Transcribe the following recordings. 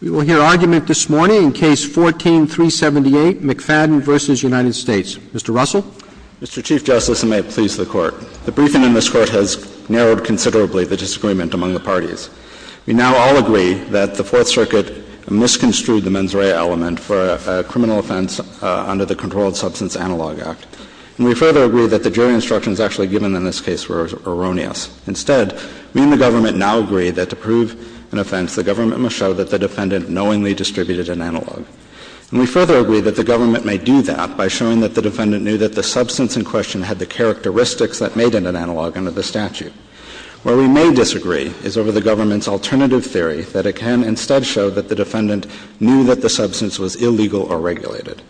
We will hear argument this morning in Case 14-378, McFadden v. United States. Mr. Russell? Mr. Chief Justice, and may it please the Court, the briefing in this Court has narrowed considerably the disagreement among the parties. We now all agree that the Fourth Circuit misconstrued the mens rea element for a criminal offense under the Controlled Substance Analog Act. And we further agree that the jury instructions actually given in this case were erroneous. Instead, we and the government now agree that to prove an offense, the government must show that the defendant knowingly distributed an analog. And we further agree that the government may do that by showing that the defendant knew that the substance in question had the characteristics that made it an analog under the statute. Where we may disagree is over the government's alternative theory, that it can instead show that the defendant knew that the substance was illegal or regulated.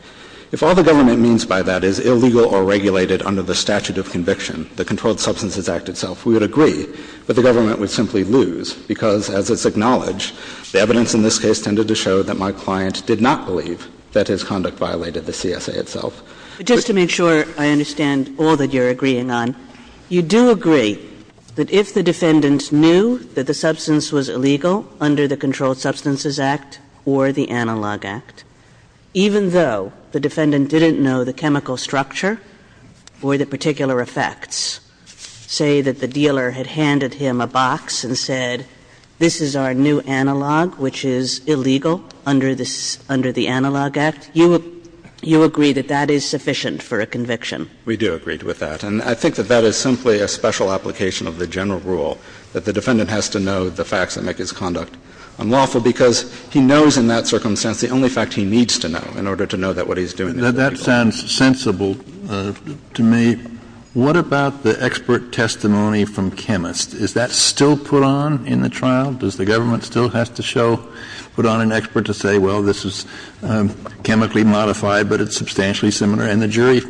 If all the government means by that is illegal or regulated under the statute of conviction, the Controlled Substances Act itself, we would agree. But the government would simply lose, because as it's acknowledged, the evidence in this case tended to show that my client did not believe that his conduct violated the CSA itself. But just to make sure I understand all that you're agreeing on, you do agree that if the defendant knew that the substance was illegal under the Controlled Substances Act or the Analog Act, even though the defendant didn't know the chemical structure or the particular effects, say that the dealer had handed him a box and said, this is our new analog, which is illegal under the Analog Act, you agree that that is sufficient for a conviction? We do agree with that. And I think that that is simply a special application of the general rule, that the defendant has to know the facts that make his conduct unlawful. Because he knows in that circumstance the only fact he needs to know in order to know that what he's doing is legal. That sounds sensible to me. What about the expert testimony from chemists? Is that still put on in the trial? Does the government still have to show, put on an expert to say, well, this is chemically modified, but it's substantially similar, and the jury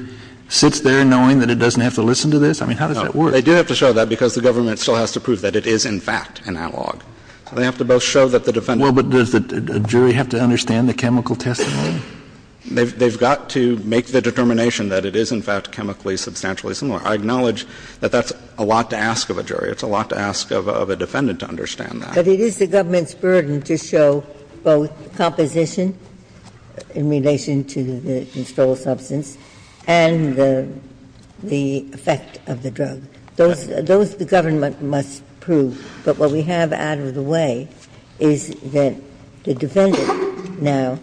sits there knowing that it doesn't have to listen to this? I mean, how does that work? They do have to show that because the government still has to prove that it is, in fact, analog. They have to both show that the defendant knows. Well, but does the jury have to understand the chemical testimony? They've got to make the determination that it is, in fact, chemically substantially similar. I acknowledge that that's a lot to ask of a jury. It's a lot to ask of a defendant to understand that. But it is the government's burden to show both composition in relation to the constrolled substance and the effect of the drug. Those the government must prove. But what we have out of the way is that the defendant now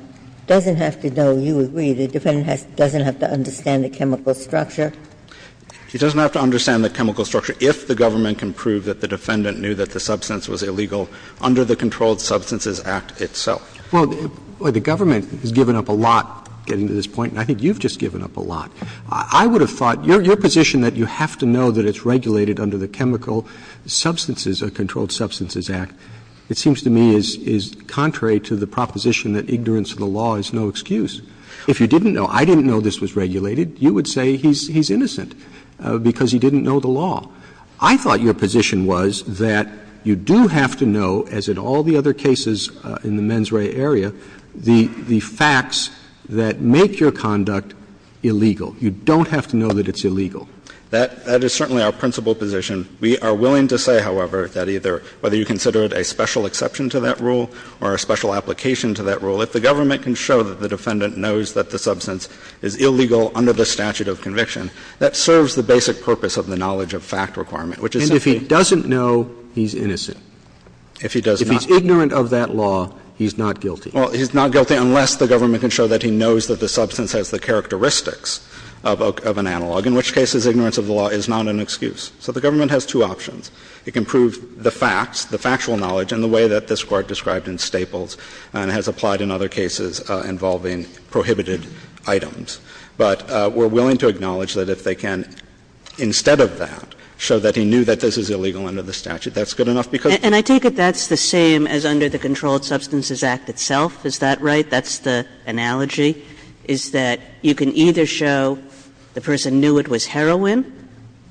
doesn't have to know. You agree the defendant doesn't have to understand the chemical structure? He doesn't have to understand the chemical structure if the government can prove that the defendant knew that the substance was illegal under the Controlled Substances Act itself. Well, the government has given up a lot getting to this point, and I think you've just given up a lot. I would have thought your position that you have to know that it's regulated under the chemical substances or Controlled Substances Act, it seems to me, is contrary to the proposition that ignorance of the law is no excuse. If you didn't know, I didn't know this was regulated, you would say he's innocent because he didn't know the law. I thought your position was that you do have to know, as in all the other cases in the mens rea area, the facts that make your conduct illegal. You don't have to know that it's illegal. That is certainly our principal position. We are willing to say, however, that either whether you consider it a special exception to that rule or a special application to that rule, if the government can show that the defendant knows that the substance is illegal under the statute of conviction, that serves the basic purpose of the knowledge of fact requirement, which is simply to say that he's innocent. And if he doesn't know he's innocent, if he's ignorant of that law, he's not guilty. Well, he's not guilty unless the government can show that he knows that the substance has the characteristics of an analog, in which case his ignorance of the law is not an excuse. So the government has two options. It can prove the facts, the factual knowledge, in the way that this Court described in Staples and has applied in other cases involving prohibited items. But we're willing to acknowledge that if they can, instead of that, show that he knew that this is illegal under the statute, that's good enough because Kagan. And I take it that's the same as under the Controlled Substances Act itself. Is that right? That's the analogy? Is that you can either show the person knew it was heroin,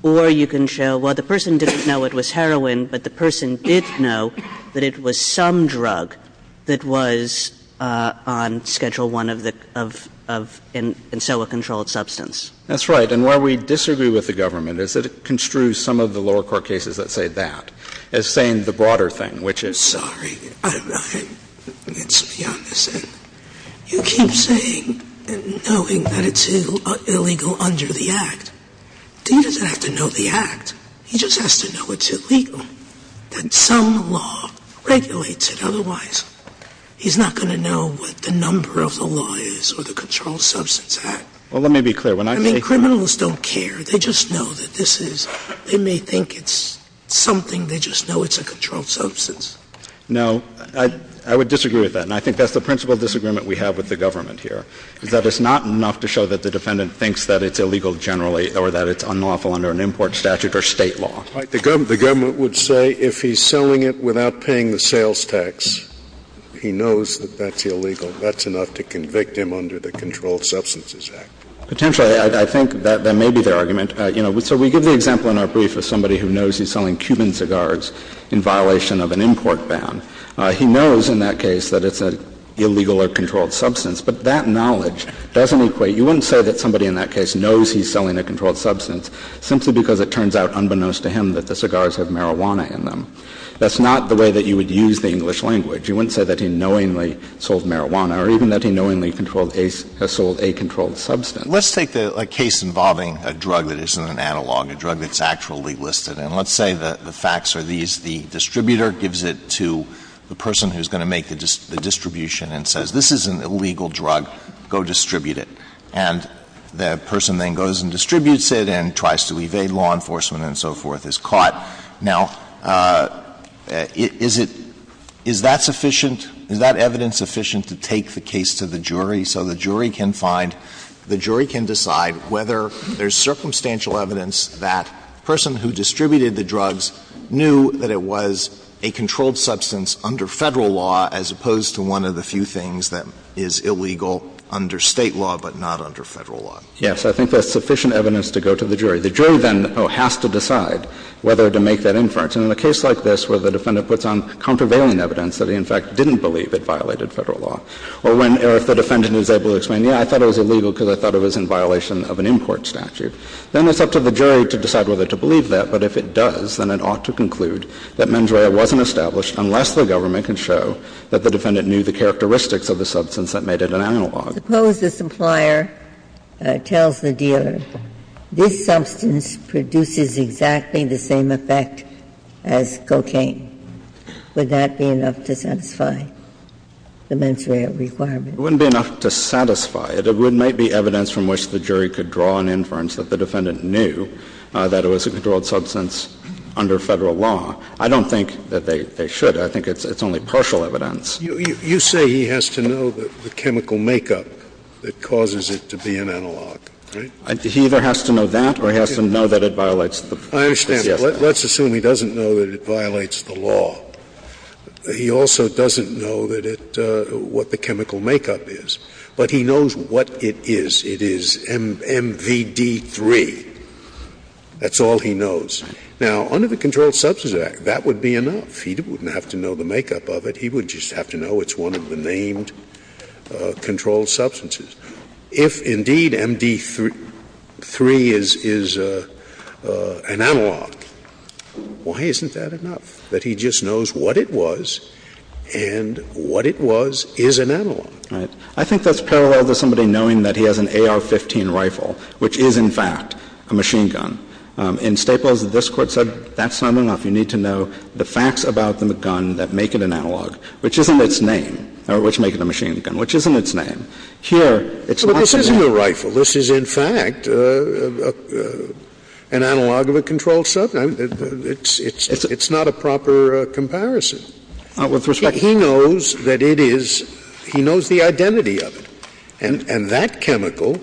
or you can show, well, the person didn't know it was heroin, but the person did know that it was some drug that was on Schedule I of the — of — of, in so a controlled substance. That's right. And why we disagree with the government is that it construes some of the lower court cases that say that, as saying the broader thing, which is — I'm sorry. It's beyond the sense. You keep saying — and knowing that it's illegal under the Act. He doesn't have to know the Act. He just has to know it's illegal, that some law regulates it. Otherwise, he's not going to know what the number of the law is or the Controlled Substance Act. Well, let me be clear. When I say — I mean, criminals don't care. They just know that this is — they may think it's something. They just know it's a controlled substance. No. I would disagree with that, and I think that's the principal disagreement we have with the government here, is that it's not enough to show that the defendant thinks that it's illegal generally or that it's unlawful under an import statute or State law. Right. The government would say if he's selling it without paying the sales tax, he knows that that's illegal. That's enough to convict him under the Controlled Substances Act. Potentially. I think that may be their argument. You know, so we give the example in our brief of somebody who knows he's selling Cuban cigars in violation of an import ban. He knows in that case that it's an illegal or controlled substance, but that knowledge doesn't equate — you wouldn't say that somebody in that case knows he's selling a controlled substance simply because it turns out, unbeknownst to him, that the cigars have marijuana in them. That's not the way that you would use the English language. You wouldn't say that he knowingly sold marijuana or even that he knowingly sold a controlled substance. Let's take a case involving a drug that isn't an analog, a drug that's actually listed, and let's say the facts are these. The distributor gives it to the person who's going to make the distribution and says, this is an illegal drug, go distribute it. And the person then goes and distributes it and tries to evade law enforcement and so forth, is caught. Now, is it — is that sufficient? Is that evidence sufficient to take the case to the jury so the jury can find — the jury can decide whether there's circumstantial evidence that the person who distributed the drugs knew that it was a controlled substance under Federal law as opposed to one of the few things that is illegal under State law but not under Federal law? Yes. I think that's sufficient evidence to go to the jury. The jury then has to decide whether to make that inference. And in a case like this where the defendant puts on countervailing evidence that he, in fact, didn't believe it violated Federal law, or when the defendant is able to explain, yes, I thought it was illegal because I thought it was in violation of an import statute, then it's up to the jury to decide whether to believe that. But if it does, then it ought to conclude that mens rea wasn't established unless the government can show that the defendant knew the characteristics of the substance that made it an analog. Suppose the supplier tells the dealer, this substance produces exactly the same effect as cocaine. Would that be enough to satisfy the mens rea requirement? It wouldn't be enough to satisfy it. I think that's sufficient evidence to go to the jury to decide whether or not the defendant knew that it was a controlled substance under Federal law. I don't think that they should. I think it's only partial evidence. You say he has to know the chemical makeup that causes it to be an analog, right? He either has to know that or he has to know that it violates the statute. I understand. Let's assume he doesn't know that it violates the law. He also doesn't know that it what the chemical makeup is, but he knows what it is. It is MVD-3. That's all he knows. Now, under the Controlled Substances Act, that would be enough. He wouldn't have to know the makeup of it. He would just have to know it's one of the named controlled substances. If, indeed, MVD-3 is an analog, why isn't that enough, that he just knows what it was and what it was is an analog? Right. I think that's parallel to somebody knowing that he has an AR-15 rifle, which is, in fact, a machine gun. In Staples, this Court said that's not enough. You need to know the facts about the gun that make it an analog, which isn't its name or which make it a machine gun, which isn't its name. Here, it's not enough. But this isn't a rifle. This is, in fact, an analog of a controlled substance. It's not a proper comparison. He knows that it is — he knows the identity of it, and that chemical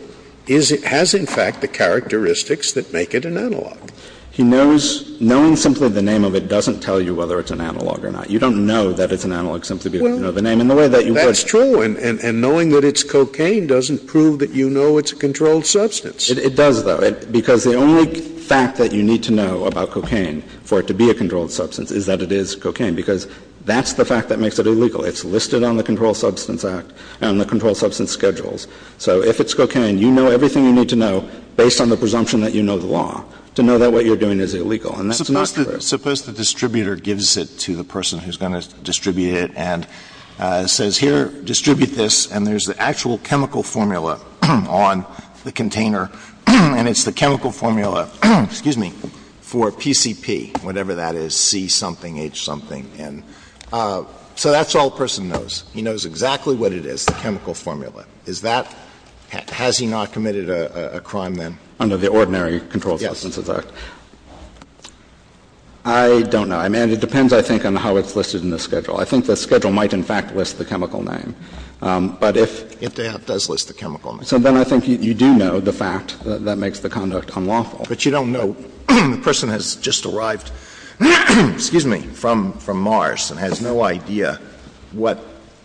has, in fact, the characteristics that make it an analog. He knows — knowing simply the name of it doesn't tell you whether it's an analog or not. You don't know that it's an analog simply because you know the name. And the way that you would— Scalia. And knowing that it's cocaine doesn't prove that you know it's a controlled substance. It does, though, because the only fact that you need to know about cocaine for it to be a controlled substance is that it is cocaine, because that's the fact that makes it illegal. It's listed on the Controlled Substance Act and on the Controlled Substance Schedules. So if it's cocaine, you know everything you need to know based on the presumption that you know the law to know that what you're doing is illegal. And that's not true. Suppose the distributor gives it to the person who's going to distribute it and says, here, distribute this, and there's the actual chemical formula on the container. And it's the chemical formula, excuse me, for PCP, whatever that is, C something, H something, N. So that's all a person knows. He knows exactly what it is, the chemical formula. Is that — has he not committed a crime then? Under the Ordinary Controlled Substances Act. Yes. I don't know. I mean, it depends, I think, on how it's listed in the schedule. I think the schedule might, in fact, list the chemical name. But if — It does list the chemical name. So then I think you do know the fact that that makes the conduct unlawful. But you don't know the person has just arrived, excuse me, from Mars and has no idea what,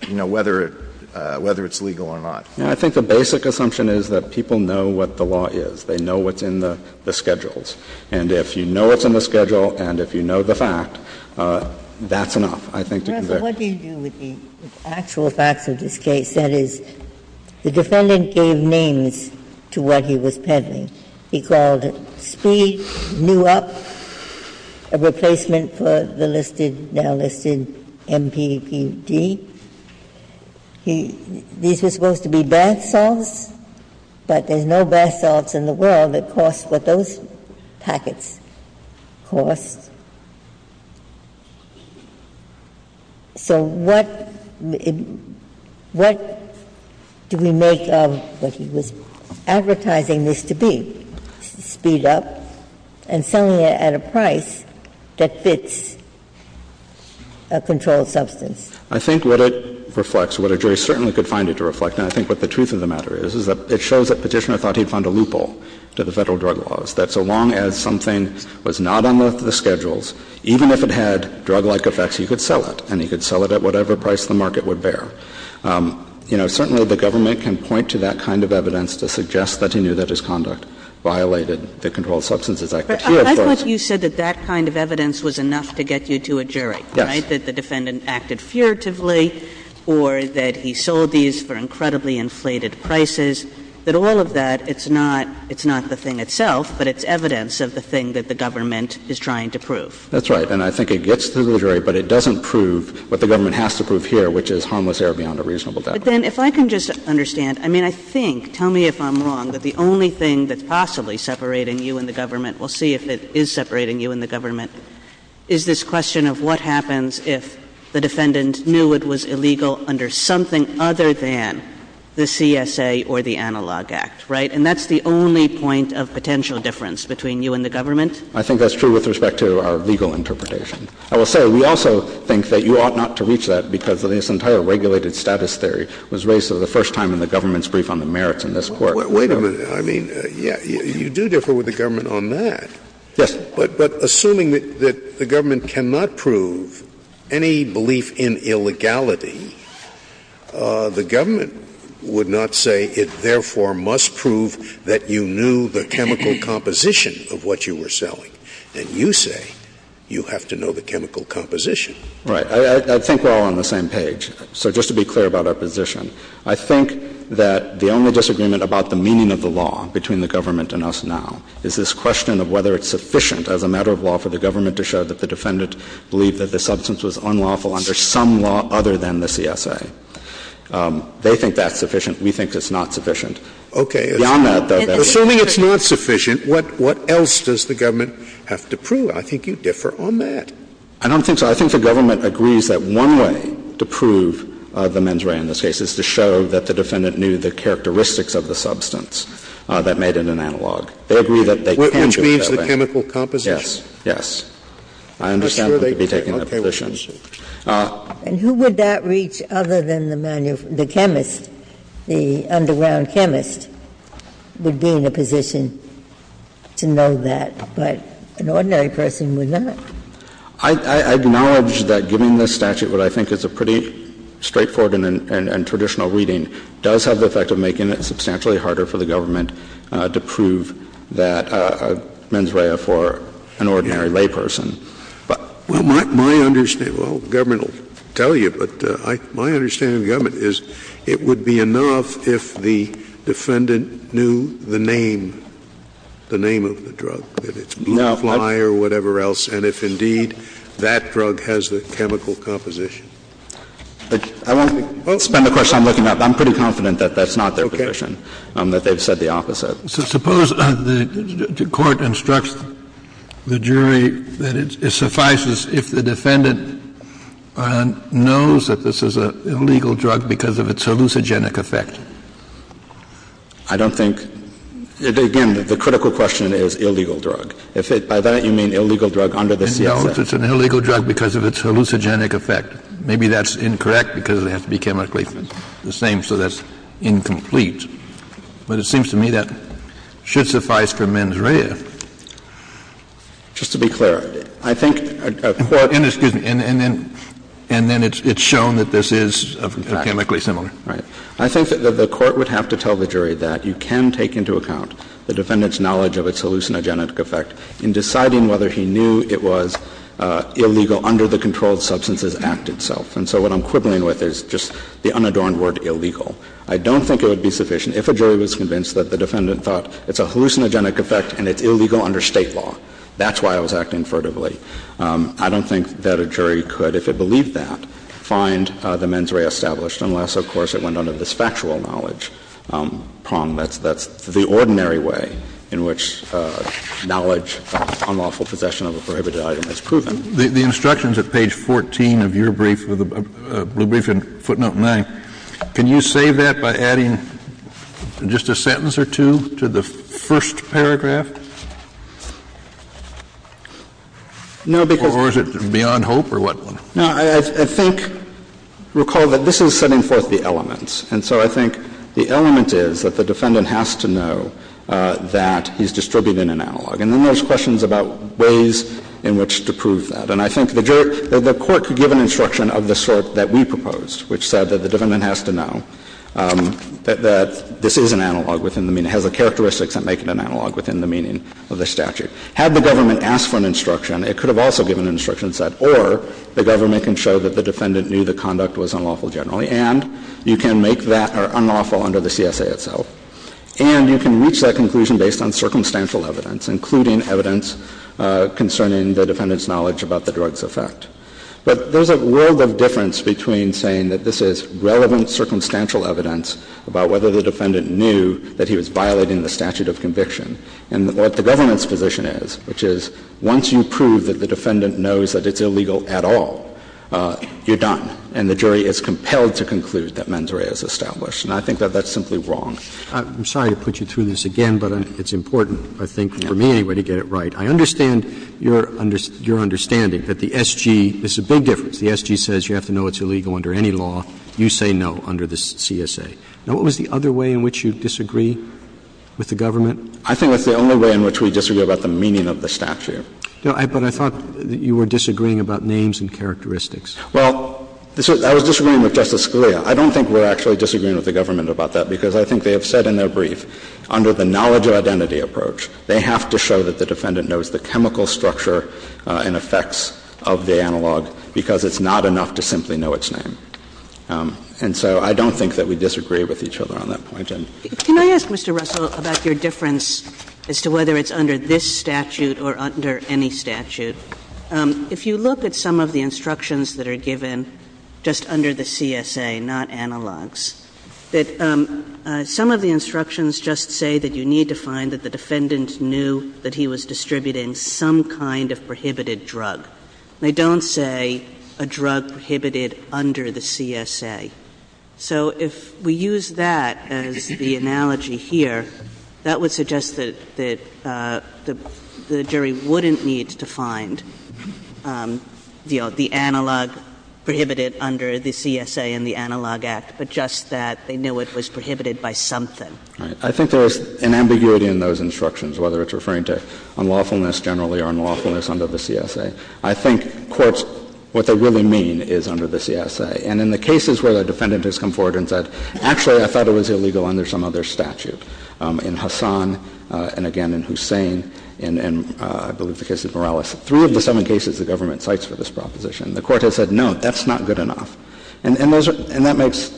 you know, whether it's legal or not. I think the basic assumption is that people know what the law is. They know what's in the schedules. And if you know what's in the schedule and if you know the fact, that's enough, I think, to convict. What do you do with the actual facts of this case? That is, the defendant gave names to what he was peddling. He called it Speed, New Up, a replacement for the listed — now listed MPPD. He — these were supposed to be bath salts, but there's no bath salts in the world that cost what those packets cost. So what — what do we make of what he was advertising this to be, Speed Up, and selling it at a price that fits a controlled substance? I think what it reflects, what a jury certainly could find it to reflect, and I think what the truth of the matter is, is that it shows that Petitioner thought he'd found a loophole to the Federal drug laws, that so long as something was not on the schedules, even if it had drug-like effects, he could sell it, and he could sell it at whatever price the market would bear. Certainly, the government can point to that kind of evidence to suggest that he knew that his conduct violated the Controlled Substances Act. But here, of course — But I thought you said that that kind of evidence was enough to get you to a jury. Yes. That the defendant acted furtively or that he sold these for incredibly inflated prices, that all of that, it's not — it's not the thing itself, but it's evidence of the thing that the government is trying to prove. That's right. And I think it gets to the jury, but it doesn't prove what the government has to prove here, which is harmless error beyond a reasonable doubt. But then, if I can just understand — I mean, I think — tell me if I'm wrong, that the only thing that's possibly separating you and the government — we'll see if it is separating you and the government — is this question of what happens if the defendant knew it was illegal under something other than the CSA or the Analog Act, right? And that's the only point of potential difference between you and the government? I think that's true with respect to our legal interpretation. I will say, we also think that you ought not to reach that because this entire regulated status theory was raised for the first time in the government's brief on the merits in this Court. Wait a minute. I mean, yes, you do differ with the government on that. Yes. But assuming that the government cannot prove any belief in illegality, the government would not say, it therefore must prove that you knew the chemical composition of what you were selling. And you say you have to know the chemical composition. Right. I think we're all on the same page. So just to be clear about our position, I think that the only disagreement about the meaning of the law between the government and us now is this question of whether it's sufficient as a matter of law for the government to show that the defendant believed that the substance was unlawful under some law other than the CSA. They think that's sufficient. We think it's not sufficient. Beyond that, though, that would be true. Okay. Assuming it's not sufficient, what else does the government have to prove? I think you differ on that. I don't think so. I think the government agrees that one way to prove the mens rea in this case is to show that the defendant knew the characteristics of the substance that made it an analog. They agree that they can do it that way. Which means the chemical composition? Yes. Yes. I understand that they would be taking that position. Okay. We'll see. And who would that reach other than the chemist, the underground chemist would be in a position to know that, but an ordinary person would not? I acknowledge that giving this statute what I think is a pretty straightforward and traditional reading does have the effect of making it substantially harder for the government to prove that mens rea for an ordinary layperson. Well, my understanding, well, the government will tell you, but my understanding of the government is it would be enough if the defendant knew the name, the name of the drug, whether it's Blue Fly or whatever else, and if, indeed, that drug has the chemical composition. I won't spend a question on looking it up. I'm pretty confident that that's not their position. Okay. That they've said the opposite. So suppose the Court instructs the jury that it suffices if the defendant knows that this is an illegal drug because of its hallucinogenic effect? I don't think — again, the critical question is illegal drug. If it — by that, you mean illegal drug under the CFS. No, if it's an illegal drug because of its hallucinogenic effect. Maybe that's incorrect because it has to be chemically the same, so that's incomplete. But it seems to me that should suffice for mens rea. Just to be clear, I think a court — Well, and then — and then it's shown that this is chemically similar. Right. I think that the Court would have to tell the jury that you can take into account the defendant's knowledge of its hallucinogenic effect in deciding whether he knew it was illegal under the Controlled Substances Act itself. And so what I'm quibbling with is just the unadorned word illegal. I don't think it would be sufficient if a jury was convinced that the defendant thought it's a hallucinogenic effect and it's illegal under State law. That's why it was acting furtively. I don't think that a jury could, if it believed that, find the mens rea established, unless, of course, it went under this factual knowledge prong. That's the ordinary way in which knowledge of unlawful possession of a prohibited item is proven. The instructions at page 14 of your brief, the brief in footnote 9, can you say that by adding just a sentence or two to the first paragraph? No, because — Or is it beyond hope or what? No, I think — recall that this is setting forth the elements. And so I think the element is that the defendant has to know that he's distributing an analog. And then there's questions about ways in which to prove that. And I think the jury — the Court could give an instruction of the sort that we proposed, which said that the defendant has to know that this is an analog within the meaning, has the characteristics that make it an analog within the meaning of the statute. Had the government asked for an instruction, it could have also given instructions that or the government can show that the defendant knew the conduct was unlawful generally and you can make that unlawful under the CSA itself. And you can reach that conclusion based on circumstantial evidence, including evidence concerning the defendant's knowledge about the drug's effect. But there's a world of difference between saying that this is relevant circumstantial evidence about whether the defendant knew that he was violating the statute of conviction and what the government's position is, which is once you prove that the defendant knows that it's illegal at all, you're done. And the jury is compelled to conclude that mens rea is established. And I think that that's simply wrong. I'm sorry to put you through this again, but it's important, I think, for me anyway, to get it right. I understand your understanding that the SG, this is a big difference, the SG says you have to know it's illegal under any law. You say no under the CSA. Now, what was the other way in which you disagree with the government? I think that's the only way in which we disagree about the meaning of the statute. No, but I thought that you were disagreeing about names and characteristics. Well, I was disagreeing with Justice Scalia. I don't think we're actually disagreeing with the government about that, because I think they have said in their brief, under the knowledge of identity approach, they have to show that the defendant knows the chemical structure and effects of the analog, because it's not enough to simply know its name. And so I don't think that we disagree with each other on that point. And so I don't think we disagree with each other on that point. Can I ask, Mr. Russell, about your difference as to whether it's under this statute or under any statute? If you look at some of the instructions that are given just under the CSA, not analogs, that some of the instructions just say that you need to find that the defendant knew that he was distributing some kind of prohibited drug. They don't say a drug prohibited under the CSA. So if we use that as the analogy here, that would suggest that the jury wouldn't need to find, you know, the analog prohibited under the CSA and the Analog Act, but just that they knew it was prohibited by something. All right. I think there is an ambiguity in those instructions, whether it's referring to unlawfulness generally or unlawfulness under the CSA. I think courts, what they really mean is under the CSA. And in the cases where the defendant has come forward and said, actually, I thought it was illegal under some other statute, in Hassan, and again in Hussein, and I believe the case of Morales, three of the seven cases the government cites for this proposition, the court has said, no, that's not good enough. And those are — and that makes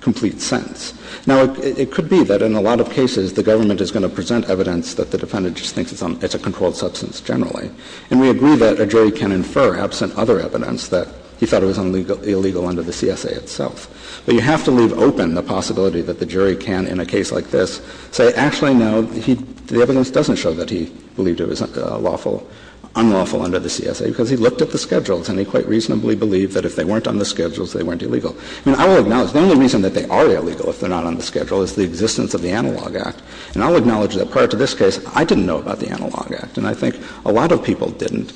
complete sense. Now, it could be that in a lot of cases the government is going to present evidence that the defendant just thinks it's a controlled substance generally. And we agree that a jury can infer, absent other evidence, that he thought it was illegal under the CSA itself. But you have to leave open the possibility that the jury can, in a case like this, say, actually, no, the evidence doesn't show that he believed it was unlawful under the CSA, because he looked at the schedules, and he quite reasonably believed that if they weren't on the schedules, they weren't illegal. I mean, I will acknowledge, the only reason that they are illegal if they're not on the schedule is the existence of the Analog Act. And I will acknowledge that prior to this case, I didn't know about the Analog Act. And I think a lot of people didn't.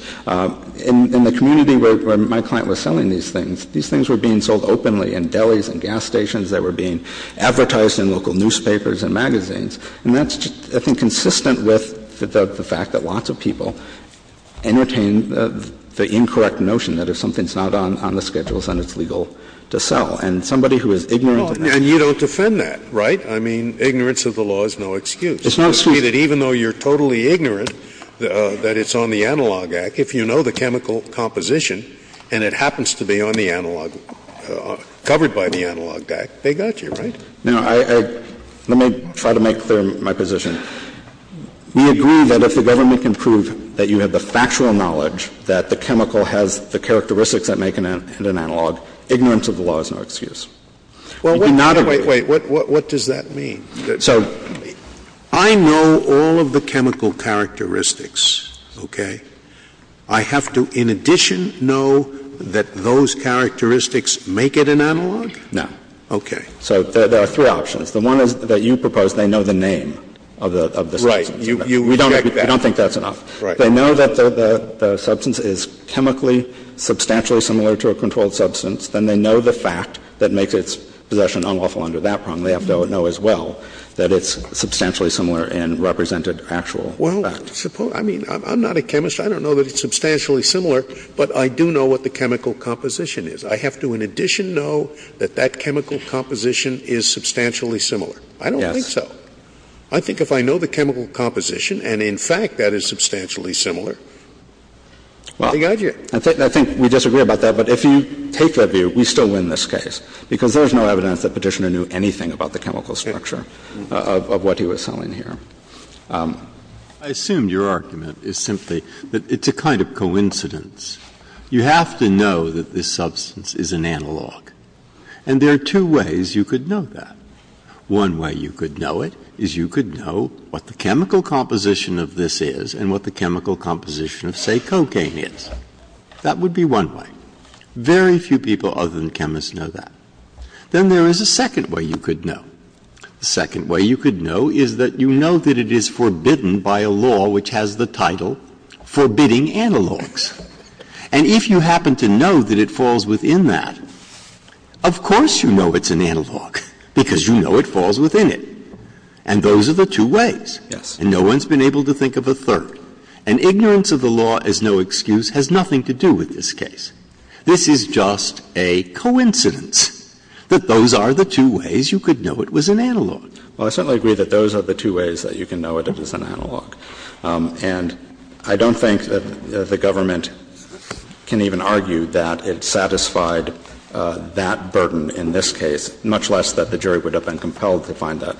In the community where my client was selling these things, these things were being sold openly in delis and gas stations. They were being advertised in local newspapers and magazines. And that's, I think, consistent with the fact that lots of people entertain the incorrect notion that if something's not on the schedules, then it's legal to sell. And somebody who is ignorant of that. Scalia, and you don't defend that, right? I mean, ignorance of the law is no excuse. It's no excuse. Scalia, even though you're totally ignorant that it's on the Analog Act, if you know the chemical composition and it happens to be on the Analog – covered by the Analog Act, they got you, right? Now, I – let me try to make clear my position. We agree that if the government can prove that you have the factual knowledge that the chemical has the characteristics that make it an analog, ignorance of the law is no excuse. You do not agree – Wait, wait, wait. What does that mean? So – I know all of the chemical characteristics, okay? I have to, in addition, know that those characteristics make it an analog? No. Okay. So there are three options. The one is that you propose they know the name of the substance. Right. You reject that. We don't think that's enough. Right. If they know that the substance is chemically substantially similar to a controlled substance, then they know the fact that makes its possession unlawful under that prong, they have to know as well that it's substantially similar in represented actual fact. Well, suppose – I mean, I'm not a chemist. I don't know that it's substantially similar, but I do know what the chemical composition is. I have to, in addition, know that that chemical composition is substantially similar. I don't think so. Yes. I think if I know the chemical composition and, in fact, that it's substantially similar. Well, I think we disagree about that, but if you take that view, we still win this case, because there's no evidence that Petitioner knew anything about the chemical structure of what he was selling here. I assume your argument is simply that it's a kind of coincidence. You have to know that this substance is an analog, and there are two ways you could know that. One way you could know it is you could know what the chemical composition of this is and what the chemical composition of, say, cocaine is. That would be one way. Very few people other than chemists know that. Then there is a second way you could know. The second way you could know is that you know that it is forbidden by a law which has the title forbidding analogs. And if you happen to know that it falls within that, of course you know it's an analog, And those are the two ways. Yes. And no one's been able to think of a third. And ignorance of the law as no excuse has nothing to do with this case. This is just a coincidence that those are the two ways you could know it was an analog. Well, I certainly agree that those are the two ways that you can know it is an analog. And I don't think that the government can even argue that it satisfied that burden in this case, much less that the jury would have been compelled to find that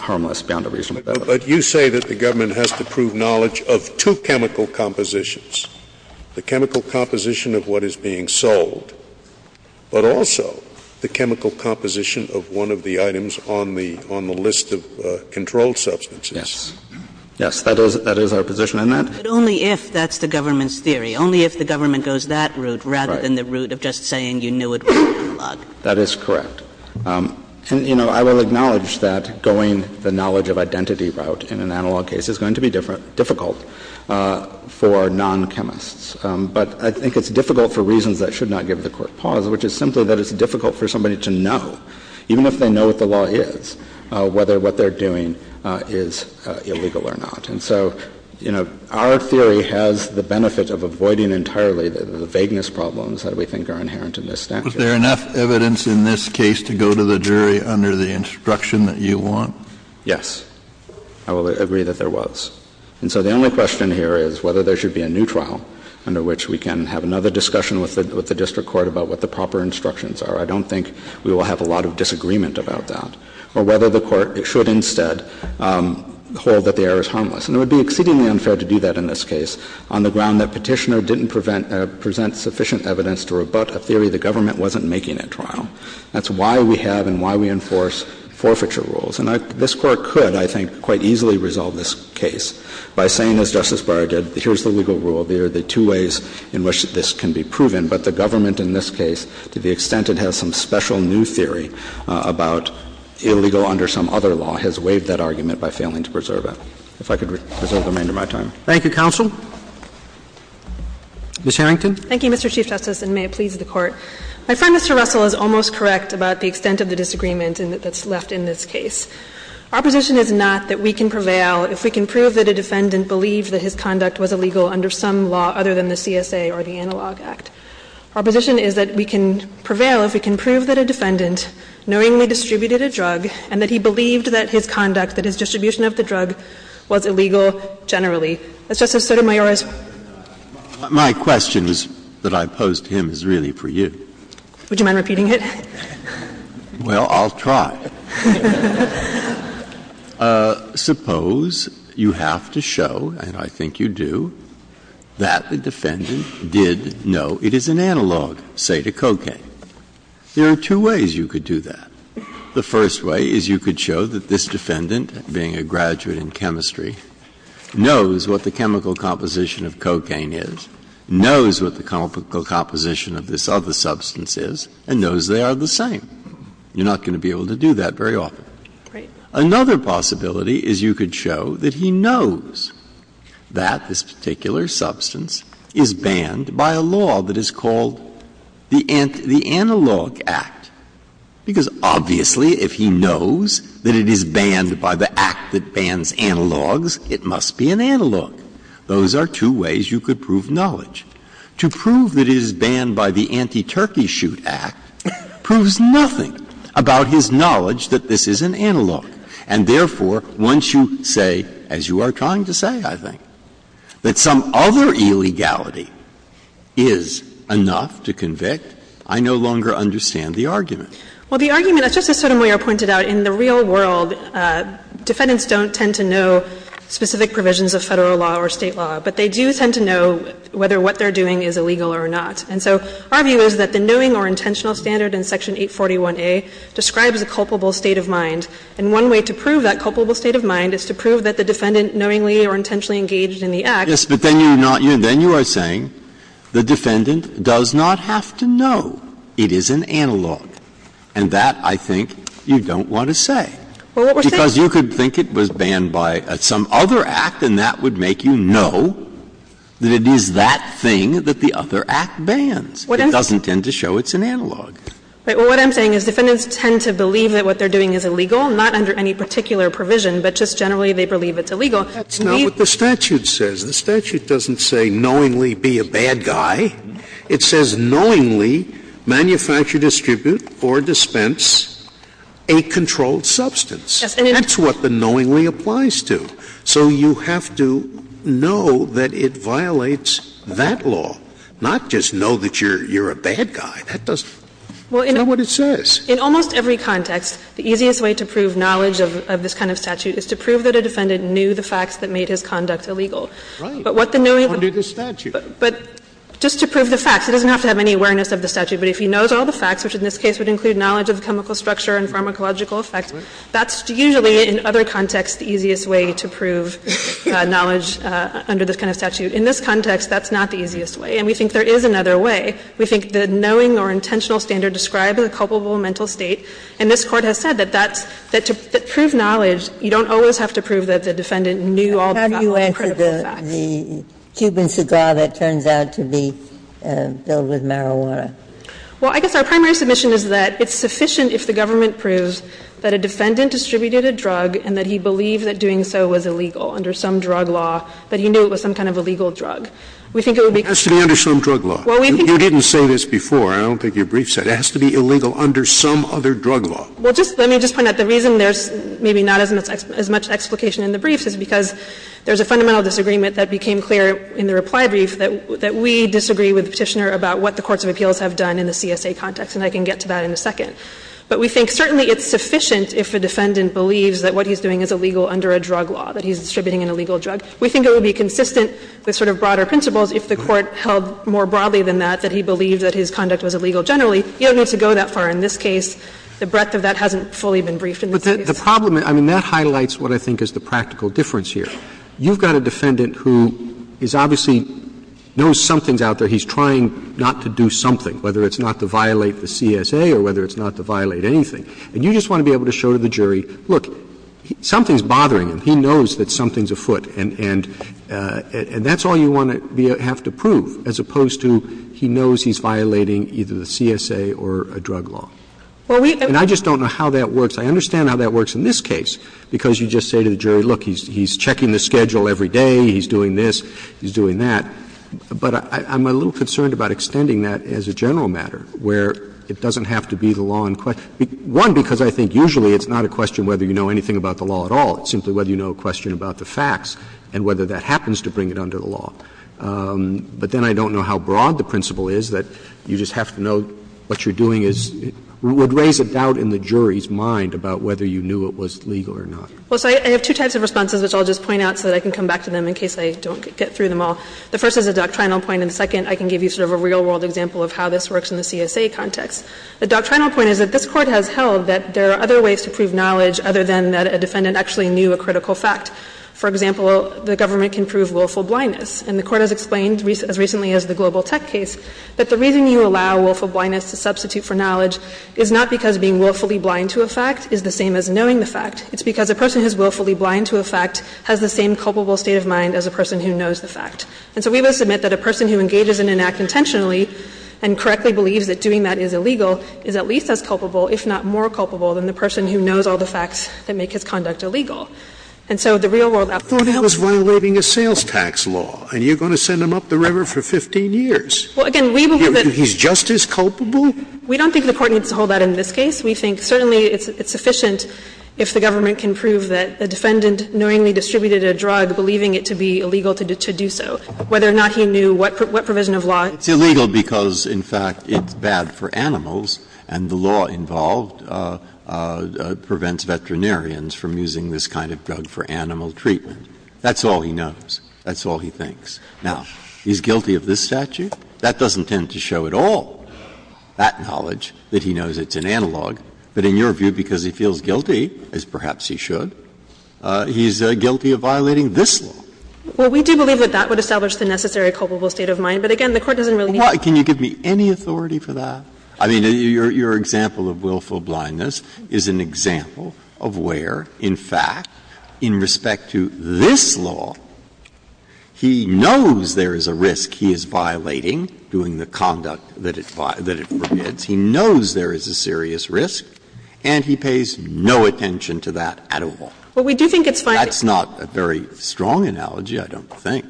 harmless beyond a reasonable doubt. But you say that the government has to prove knowledge of two chemical compositions, the chemical composition of what is being sold, but also the chemical composition of one of the items on the list of controlled substances. Yes. Yes. That is our position. And that's the government's theory. Only if the government goes that route rather than the route of just saying you knew it was an analog. That is correct. And, you know, I will acknowledge that going the knowledge of identity route in an analog case is going to be difficult for non-chemists. But I think it's difficult for reasons that should not give the Court pause, which is simply that it's difficult for somebody to know, even if they know what the law is, whether what they're doing is illegal or not. And so, you know, our theory has the benefit of avoiding entirely the vagueness problems that we think are inherent in this statute. Was there enough evidence in this case to go to the jury under the instruction that you want? Yes. I will agree that there was. And so the only question here is whether there should be a new trial under which we can have another discussion with the district court about what the proper instructions are. I don't think we will have a lot of disagreement about that. Or whether the court should instead hold that the error is harmless. And it would be exceedingly unfair to do that in this case on the ground that Petitioner didn't present sufficient evidence to rebut a theory the government wasn't making at trial. That's why we have and why we enforce forfeiture rules. And this Court could, I think, quite easily resolve this case by saying, as Justice Barra did, here's the legal rule. There are the two ways in which this can be proven. But the government in this case, to the extent it has some special new theory about illegal under some other law, has waived that argument by failing to preserve it. If I could reserve the remainder of my time. Thank you, counsel. Ms. Harrington. Thank you, Mr. Chief Justice, and may it please the Court. I find Mr. Russell is almost correct about the extent of the disagreement that's left in this case. Our position is not that we can prevail if we can prove that a defendant believed that his conduct was illegal under some law other than the CSA or the Analog Act. Our position is that we can prevail if we can prove that a defendant knowingly distributed a drug and that he believed that his conduct, that his distribution of the drug, was illegal generally. As Justice Sotomayor has raised. My question is that I posed to him is really for you. Would you mind repeating it? Well, I'll try. Suppose you have to show, and I think you do, that the defendant did know it is an analog, say, to cocaine. There are two ways you could do that. The first way is you could show that this defendant, being a graduate in chemistry, knows what the chemical composition of cocaine is, knows what the chemical composition of this other substance is, and knows they are the same. You're not going to be able to do that very often. Another possibility is you could show that he knows that this particular substance is banned by a law that is called the Analog Act, because obviously if he knows that it is banned by the Act that bans analogs, it must be an analog. Those are two ways you could prove knowledge. To prove that it is banned by the Anti-Turkey Shoot Act proves nothing about his knowledge that this is an analog, and therefore, once you say, as you are trying to say, I think, that some other illegality is enough to convict, I no longer understand the argument. Well, the argument, as Justice Sotomayor pointed out, in the real world, defendants don't tend to know specific provisions of Federal law or State law, but they do tend to know whether what they are doing is illegal or not. And so our view is that the knowing or intentional standard in Section 841a describes a culpable state of mind, and one way to prove that culpable state of mind is to prove that the defendant knowingly or intentionally engaged in the act. Breyer. Yes, but then you are saying the defendant does not have to know it is an analog, and that, I think, you don't want to say. Because you could think it was banned by some other act, and that would make you know that it is that thing that the other act bans. It doesn't tend to show it's an analog. Well, what I'm saying is defendants tend to believe that what they are doing is illegal, not under any particular provision, but just generally they believe it's illegal. Scalia. That's not what the statute says. The statute doesn't say knowingly be a bad guy. It says knowingly manufacture, distribute, or dispense a controlled substance. That's what the knowingly applies to. So you have to know that it violates that law, not just know that you're a bad guy. That doesn't do what it says. In almost every context, the easiest way to prove knowledge of this kind of statute is to prove that a defendant knew the facts that made his conduct illegal. But what the knowingly doesn't do is prove the facts. It doesn't have to have any awareness of the statute, but if he knows all the facts, which in this case would include knowledge of the chemical structure and pharmacological effects, that's usually in other contexts the easiest way to prove knowledge under this kind of statute. In this context, that's not the easiest way. And we think there is another way. We think the knowing or intentional standard described is a culpable mental state. And this Court has said that that's to prove knowledge, you don't always have to prove that the defendant knew all the critical facts. Ginsburg. How do you answer the Cuban cigar that turns out to be filled with marijuana? Well, I guess our primary submission is that it's sufficient if the government proves that a defendant distributed a drug and that he believed that doing so was illegal under some drug law, that he knew it was some kind of illegal drug. We think it would be good. It has to be under some drug law. You didn't say this before. I don't think your brief said it. It has to be illegal under some other drug law. Well, let me just point out, the reason there's maybe not as much explication in the briefs is because there's a fundamental disagreement that became clear in the reply brief that we disagree with the Petitioner about what the courts of appeals have done in the CSA context, and I can get to that in a second. But we think certainly it's sufficient if a defendant believes that what he's doing is illegal under a drug law, that he's distributing an illegal drug. We think it would be consistent with sort of broader principles if the Court held more broadly than that, that he believed that his conduct was illegal generally. You don't need to go that far in this case. The breadth of that hasn't fully been briefed in this case. Roberts. But the problem, I mean, that highlights what I think is the practical difference here. You've got a defendant who is obviously knows something's out there. He's trying not to do something, whether it's not to violate the CSA or whether it's not to violate anything. And you just want to be able to show to the jury, look, something's bothering him. He knows that something's afoot. And that's all you want to have to prove, as opposed to he knows he's violating either the CSA or a drug law. And I just don't know how that works. I understand how that works in this case, because you just say to the jury, look, he's checking the schedule every day, he's doing this, he's doing that. But I'm a little concerned about extending that as a general matter, where it doesn't have to be the law in question. One, because I think usually it's not a question whether you know anything about the law at all. It's simply whether you know a question about the facts and whether that happens to bring it under the law. But then I don't know how broad the principle is that you just have to know what you're doing is — would raise a doubt in the jury's mind about whether you knew it was legal or not. Well, so I have two types of responses, which I'll just point out so that I can come back to them in case I don't get through them all. The first is a doctrinal point, and the second, I can give you sort of a real-world example of how this works in the CSA context. The doctrinal point is that this Court has held that there are other ways to prove knowledge other than that a defendant actually knew a critical fact. For example, the government can prove willful blindness. And the Court has explained, as recently as the Global Tech case, that the reason you allow willful blindness to substitute for knowledge is not because being willfully blind to a fact is the same as knowing the fact. It's because a person who is willfully blind to a fact has the same culpable state of mind as a person who knows the fact. And so we must admit that a person who engages in an act intentionally and correctly believes that doing that is illegal is at least as culpable, if not more culpable, than the person who knows all the facts that make his conduct illegal. And so the real-world outcome is that the defendant is not going to be able to prove Sotomayor, I thought it was violating a sales tax law, and you're going to send him up the river for 15 years. Well, again, we believe that he's just as culpable. We don't think the Court needs to hold that in this case. We think certainly it's sufficient if the government can prove that the defendant knowingly distributed a drug, believing it to be illegal to do so. Whether or not he knew what provision of law. Breyer. It's illegal because, in fact, it's bad for animals, and the law involved prevents veterinarians from using this kind of drug for animal treatment. That's all he knows. That's all he thinks. Now, he's guilty of this statute. That doesn't tend to show at all that knowledge, that he knows it's an analog. But in your view, because he feels guilty, as perhaps he should, he's guilty of violating this law. Well, we do believe that that would establish the necessary culpable state of mind. But, again, the Court doesn't really need to prove that. Breyer. Can you give me any authority for that? I mean, your example of willful blindness is an example of where, in fact, in respect to this law, he knows there is a risk he is violating, doing the conduct that it forbids. He knows there is a serious risk, and he pays no attention to that at all. Well, we do think it's fine. That's not a very strong analogy, I don't think.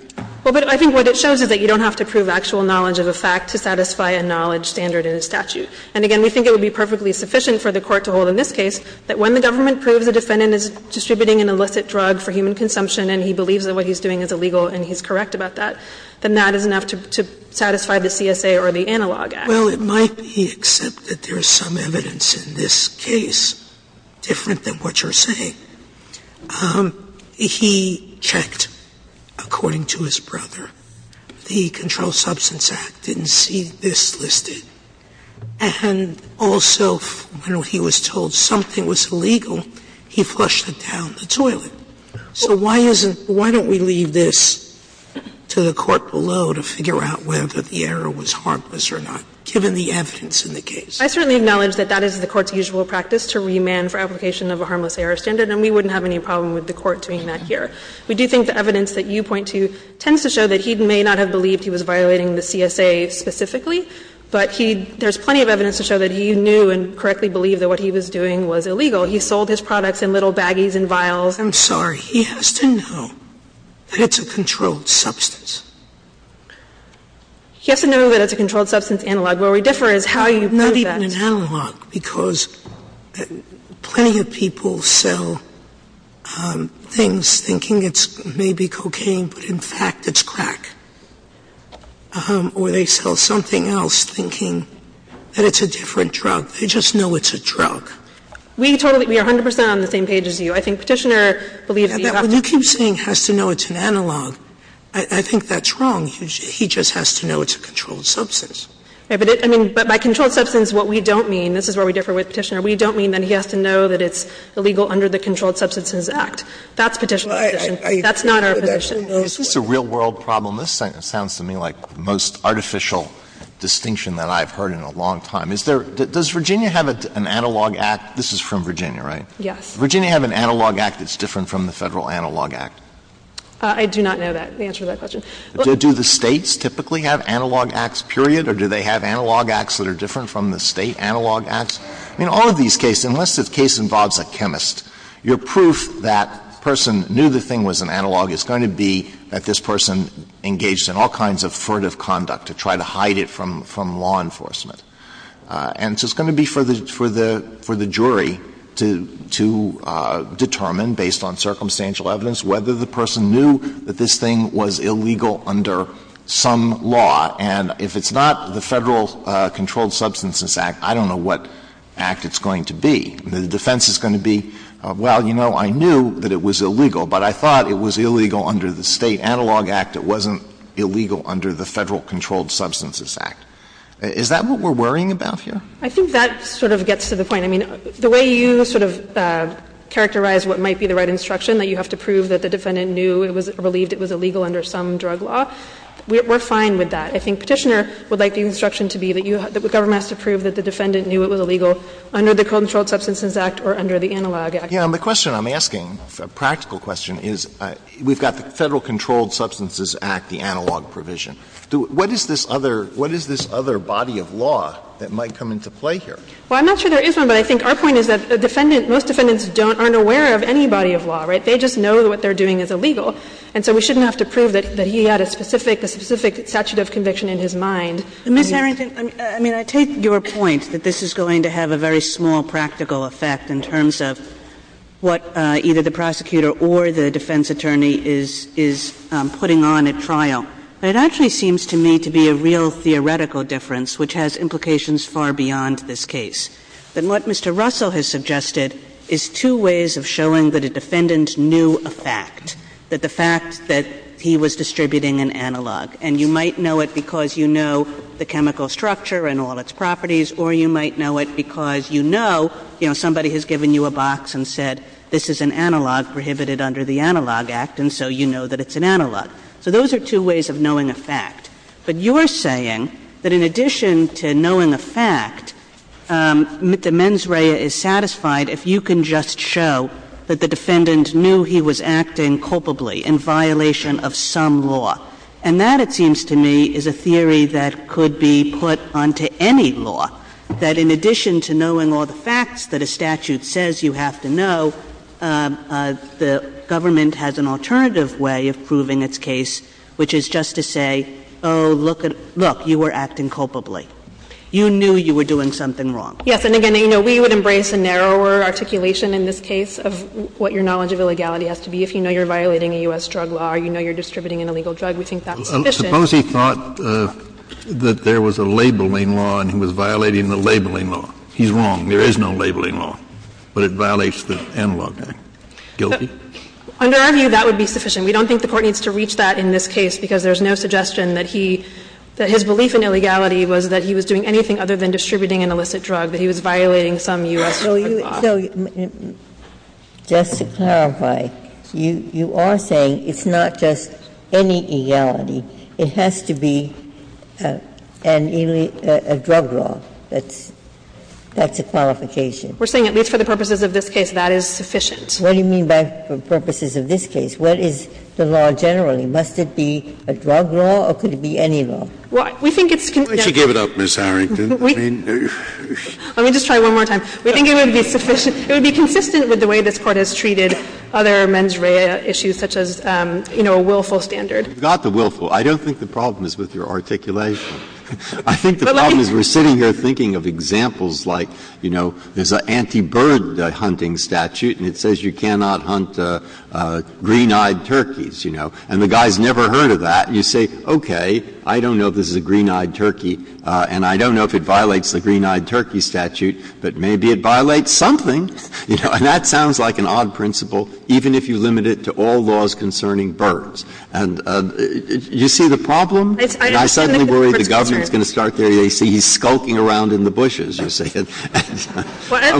Well, but I think what it shows is that you don't have to prove actual knowledge of a fact to satisfy a knowledge standard in a statute. And, again, we think it would be perfectly sufficient for the Court to hold in this case that when the government proves a defendant is distributing an illicit drug for human consumption and he believes that what he's doing is illegal and he's correct about that, then that is enough to satisfy the CSA or the analog act. Well, it might be, except that there is some evidence in this case different than what you're saying. He checked, according to his brother, the Controlled Substance Act, didn't see this listed, and also when he was told something was illegal, he flushed it down the toilet. So why isn't – why don't we leave this to the Court below to figure out whether the error was harmless or not, given the evidence in the case? I certainly acknowledge that that is the Court's usual practice, to remand for application of a harmless error standard, and we wouldn't have any problem with the Court doing that here. We do think the evidence that you point to tends to show that he may not have believed he was violating the CSA specifically, but he – there's plenty of evidence to show that he knew and correctly believed that what he was doing was illegal. He sold his products in little baggies and vials. I'm sorry. He has to know that it's a controlled substance. He has to know that it's a controlled substance analog. Where we differ is how you prove that. Sotomayor, I don't believe in an analog, because plenty of people sell things thinking it's maybe cocaine, but in fact it's crack. Or they sell something else, thinking that it's a different drug. They just know it's a drug. We totally – we are 100 percent on the same page as you. I think Petitioner believes that you have to – When you keep saying he has to know it's an analog, I think that's wrong. He just has to know it's a controlled substance. But it – I mean, but by controlled substance, what we don't mean – this is where we differ with Petitioner – we don't mean that he has to know that it's illegal under the Controlled Substances Act. That's Petitioner's position. That's not our position. Is this a real-world problem? This sounds to me like the most artificial distinction that I've heard in a long time. Is there – does Virginia have an analog act? This is from Virginia, right? Yes. Does Virginia have an analog act that's different from the Federal Analog Act? I do not know that, the answer to that question. Do the States typically have analog acts, period, or do they have analog acts that are different from the State analog acts? I mean, all of these cases, unless the case involves a chemist, your proof that a person knew the thing was an analog is going to be that this person engaged in all kinds of furtive conduct to try to hide it from law enforcement. And so it's going to be for the jury to determine, based on circumstantial evidence, whether the person knew that this thing was illegal under some law. And if it's not the Federal Controlled Substances Act, I don't know what act it's going to be. The defense is going to be, well, you know, I knew that it was illegal, but I thought it was illegal under the State analog act. It wasn't illegal under the Federal Controlled Substances Act. Is that what we're worrying about here? I think that sort of gets to the point. I mean, the way you sort of characterize what might be the right instruction, that you have to prove that the defendant knew it was or believed it was illegal under some drug law, we're fine with that. I think Petitioner would like the instruction to be that you have to prove that the defendant knew it was illegal under the Controlled Substances Act or under the analog act. Alito, the question I'm asking, a practical question, is we've got the Federal Controlled Substances Act, the analog provision. What is this other body of law that might come into play here? Well, I'm not sure there is one, but I think our point is that most defendants aren't aware of any body of law, right? They just know that what they're doing is illegal. And so we shouldn't have to prove that he had a specific, a specific statute of conviction in his mind. Ms. Harrington, I mean, I take your point that this is going to have a very small practical effect in terms of what either the prosecutor or the defense attorney is putting on at trial. But it actually seems to me to be a real theoretical difference, which has implications far beyond this case, that what Mr. Russell has suggested is two ways of showing that a defendant knew a fact, that the fact that he was distributing an analog. And you might know it because you know the chemical structure and all its properties, or you might know it because you know, you know, somebody has given you a box and said this is an analog prohibited under the analog act, and so you know that it's an analog. So those are two ways of knowing a fact. But you're saying that in addition to knowing a fact, the mens rea is satisfied if you can just show that the defendant knew he was acting culpably in violation of some law. And that, it seems to me, is a theory that could be put onto any law, that in addition to knowing all the facts that a statute says you have to know, the government has an alternative way of proving its case, which is just to say, oh, look, look, you were acting culpably. You knew you were doing something wrong. Yes. And again, you know, we would embrace a narrower articulation in this case of what your knowledge of illegality has to be. If you know you're violating a U.S. drug law or you know you're distributing an illegal drug, we think that's sufficient. Suppose he thought that there was a labeling law and he was violating the labeling law. He's wrong. There is no labeling law, but it violates the analog act. Guilty? Under our view, that would be sufficient. We don't think the Court needs to reach that in this case because there's no suggestion that he, that his belief in illegality was that he was doing anything other than violating a U.S. drug law, but he was violating some U.S. drug law. So just to clarify, you are saying it's not just any illegality, it has to be an illegal drug law that's a qualification? We're saying at least for the purposes of this case, that is sufficient. What do you mean by purposes of this case? What is the law generally? Must it be a drug law or could it be any law? Well, we think it's consistent. Why don't you give it up, Ms. Harrington? Let me just try one more time. We think it would be sufficient. It would be consistent with the way this Court has treated other mens rea issues such as, you know, a willful standard. You've got the willful. I don't think the problem is with your articulation. I think the problem is we're sitting here thinking of examples like, you know, there's an anti-bird hunting statute and it says you cannot hunt green-eyed turkeys, you know, and the guy's never heard of that. You say, okay, I don't know if this is a green-eyed turkey and I don't know if it violates the green-eyed turkey statute, but maybe it violates something, you know. And that sounds like an odd principle, even if you limit it to all laws concerning birds. And you see the problem? And I suddenly worry the government's going to start there. They see he's skulking around in the bushes, you see. And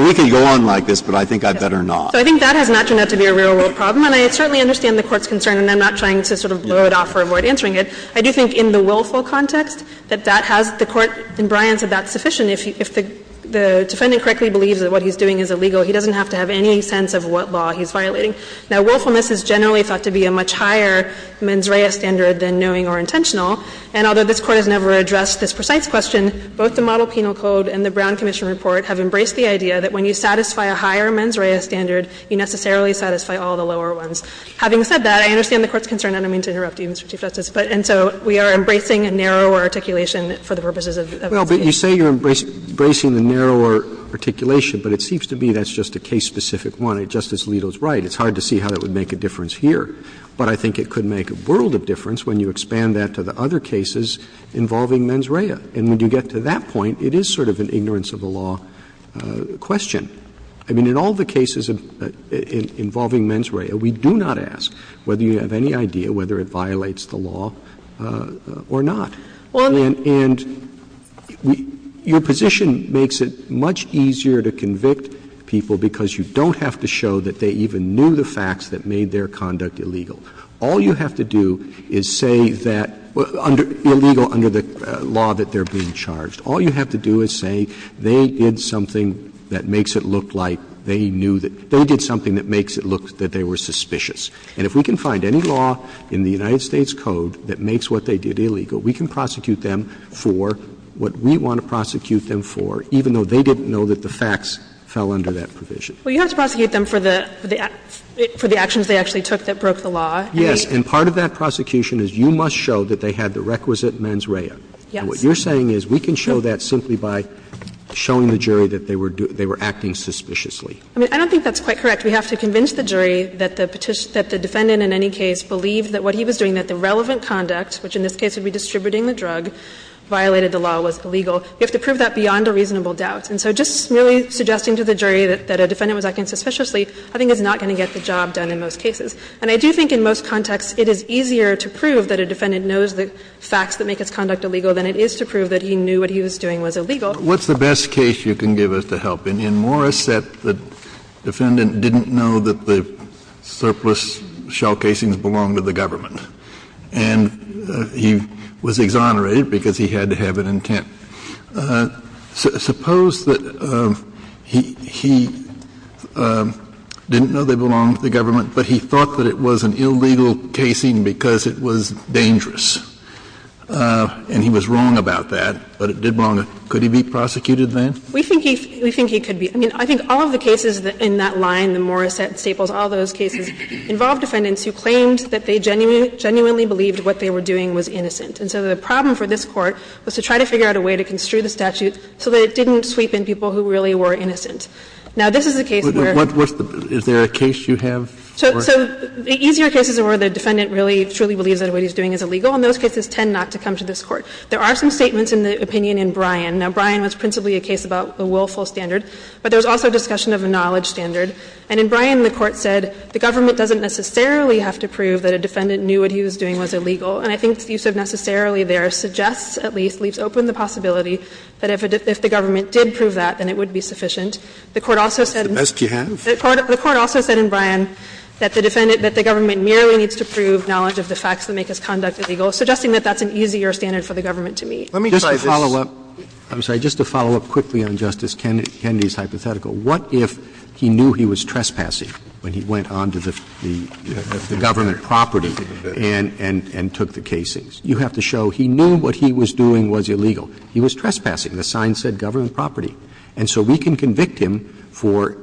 we could go on like this, but I think I'd better not. So I think that has not turned out to be a real-world problem. And I certainly understand the Court's concern, and I'm not trying to sort of blow it off or avoid answering it. I do think in the willful context that that has the Court in Bryant said that's sufficient. If the defendant correctly believes that what he's doing is illegal, he doesn't have to have any sense of what law he's violating. Now, willfulness is generally thought to be a much higher mens rea standard than knowing or intentional. And although this Court has never addressed this precise question, both the Model Penal Code and the Brown Commission Report have embraced the idea that when you satisfy a higher mens rea standard, you necessarily satisfy all the lower ones. Having said that, I understand the Court's concern, and I don't mean to interrupt you, Mr. Chief Justice, and so we are embracing a narrower articulation for the purposes of this case. Roberts, you say you're embracing the narrower articulation, but it seems to me that's just a case-specific one. Justice Alito's right. It's hard to see how that would make a difference here. But I think it could make a world of difference when you expand that to the other cases involving mens rea. And when you get to that point, it is sort of an ignorance of the law question. I mean, in all the cases involving mens rea, we do not ask whether you have any idea whether it violates the law or not. And your position makes it much easier to convict people because you don't have to show that they even knew the facts that made their conduct illegal. All you have to do is say that under illegal under the law that they're being charged. All you have to do is say they did something that makes it look like they knew that they did something that makes it look that they were suspicious. And if we can find any law in the United States Code that makes what they did illegal, we can prosecute them for what we want to prosecute them for, even though they didn't know that the facts fell under that provision. Well, you have to prosecute them for the actions they actually took that broke the law. Yes. And part of that prosecution is you must show that they had the requisite mens rea. Yes. And what you're saying is we can show that simply by showing the jury that they were acting suspiciously. I mean, I don't think that's quite correct. We have to convince the jury that the defendant in any case believed that what he was doing, that the relevant conduct, which in this case would be distributing the drug, violated the law, was illegal. You have to prove that beyond a reasonable doubt. And so just merely suggesting to the jury that a defendant was acting suspiciously I think is not going to get the job done in most cases. And I do think in most contexts it is easier to prove that a defendant knows the facts that make his conduct illegal than it is to prove that he knew what he was doing was illegal. Kennedy, what's the best case you can give us to help? In Morris, the defendant didn't know that the surplus shell casings belonged to the government. And he was exonerated because he had to have an intent. Suppose that he didn't know they belonged to the government, but he thought that it was an illegal casing because it was dangerous. And he was wrong about that, but it did belong to the government. Could he be prosecuted then? We think he could be. I mean, I think all of the cases in that line, the Morris, Staples, all those cases involved defendants who claimed that they genuinely believed what they were doing was innocent. And so the problem for this Court was to try to figure out a way to construe the statute so that it didn't sweep in people who really were innocent. Now, this is a case where the case you have. So the easier cases are where the defendant really truly believes that what he's doing is illegal, and those cases tend not to come to this Court. There are some statements in the opinion in Bryan. Now, Bryan was principally a case about a willful standard, but there was also a discussion of a knowledge standard. And in Bryan, the Court said the government doesn't necessarily have to prove that a defendant knew what he was doing was illegal. And I think the use of necessarily there suggests, at least, leaves open the possibility that if the government did prove that, then it would be sufficient. The Court also said the court also said in Bryan that the defendant, that the government merely needs to prove knowledge of the facts that make his conduct illegal, suggesting that that's an easier standard for the government to meet. Roberts I'm sorry, just to follow up quickly on Justice Kennedy's hypothetical. What if he knew he was trespassing when he went on to the government property and took the casings? You have to show he knew what he was doing was illegal. He was trespassing. The sign said government property. And so we can convict him for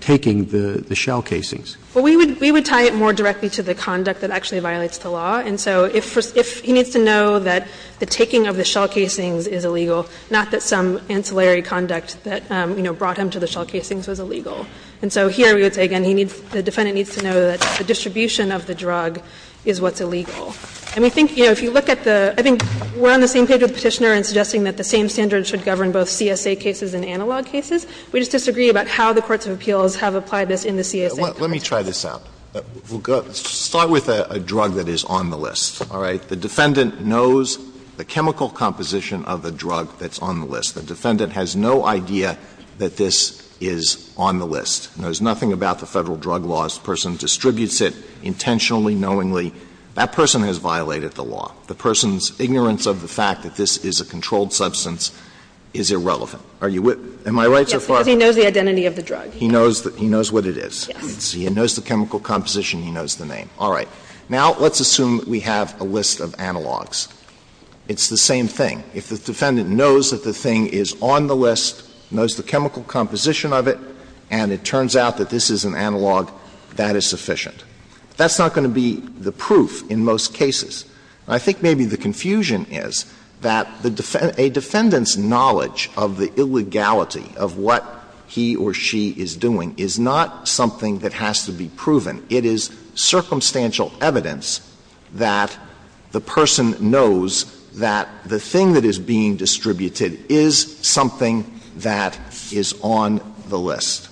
taking the shell casings. Saharsky Well, we would tie it more directly to the conduct that actually violates the law. And so if he needs to know that the taking of the shell casings is illegal, not that some ancillary conduct that, you know, brought him to the shell casings was illegal. And so here we would say, again, he needs, the defendant needs to know that the distribution of the drug is what's illegal. And we think, you know, if you look at the, I think we're on the same page with Petitioner in suggesting that the same standard should govern both CSA cases and analog cases. We just disagree about how the courts of appeals have applied this in the CSA. Alito Let me try this out. We'll go, start with a drug that is on the list, all right? The defendant knows the chemical composition of the drug that's on the list. The defendant has no idea that this is on the list, knows nothing about the Federal drug laws. The person distributes it intentionally, knowingly. That person has violated the law. The person's ignorance of the fact that this is a controlled substance is irrelevant. Are you, am I right so far? Saharsky Yes, because he knows the identity of the drug. Alito He knows what it is. He knows the chemical composition, he knows the name. All right. Now, let's assume we have a list of analogs. It's the same thing. If the defendant knows that the thing is on the list, knows the chemical composition of it, and it turns out that this is an analog, that is sufficient. That's not going to be the proof in most cases. I think maybe the confusion is that a defendant's knowledge of the illegality of what he or she is doing is not something that has to be proven. It is circumstantial evidence that the person knows that the thing that is being distributed is something that is on the list.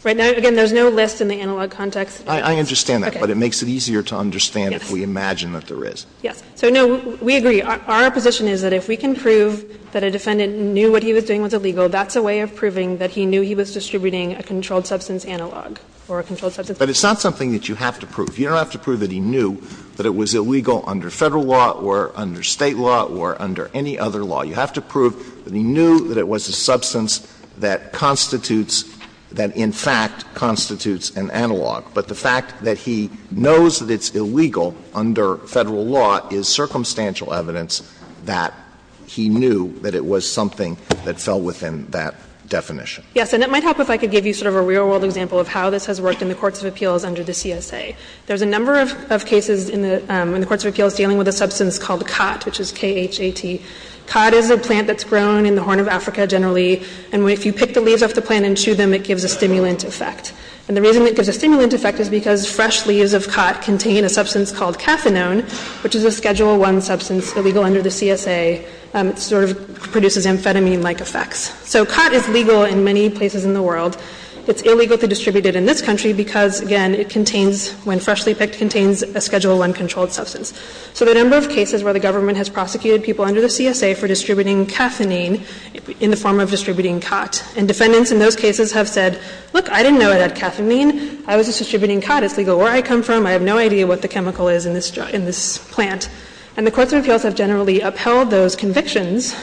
Saharsky Right. Now, again, there's no list in the analog context. Alito I understand that, but it makes it easier to understand if we imagine that there is. Saharsky Yes. So, no, we agree. Our position is that if we can prove that a defendant knew what he was doing was an analog, that's a way of proving that he knew he was distributing a controlled substance analog or a controlled substance. Alito But it's not something that you have to prove. You don't have to prove that he knew that it was illegal under Federal law or under State law or under any other law. You have to prove that he knew that it was a substance that constitutes that in fact constitutes an analog. But the fact that he knows that it's illegal under Federal law is circumstantial evidence that he knew that it was something that fell within that definition. Saharsky Yes. And it might help if I could give you sort of a real-world example of how this has worked in the courts of appeals under the CSA. There's a number of cases in the courts of appeals dealing with a substance called cot, which is K-H-A-T. Cot is a plant that's grown in the Horn of Africa generally, and if you pick the leaves off the plant and chew them, it gives a stimulant effect. And the reason it gives a stimulant effect is because fresh leaves of cot contain a substance called cathinone, which is a Schedule I substance illegal under the CSA. It sort of produces amphetamine-like effects. So cot is legal in many places in the world. It's illegally distributed in this country because, again, it contains, when freshly picked, contains a Schedule I controlled substance. So the number of cases where the government has prosecuted people under the CSA for distributing cathinine in the form of distributing cot, and defendants in those cases have said, look, I didn't know it had cathinine. I was just distributing cot. It's legal where I come from. I have no idea what the chemical is in this plant. And the courts of appeals have generally upheld those convictions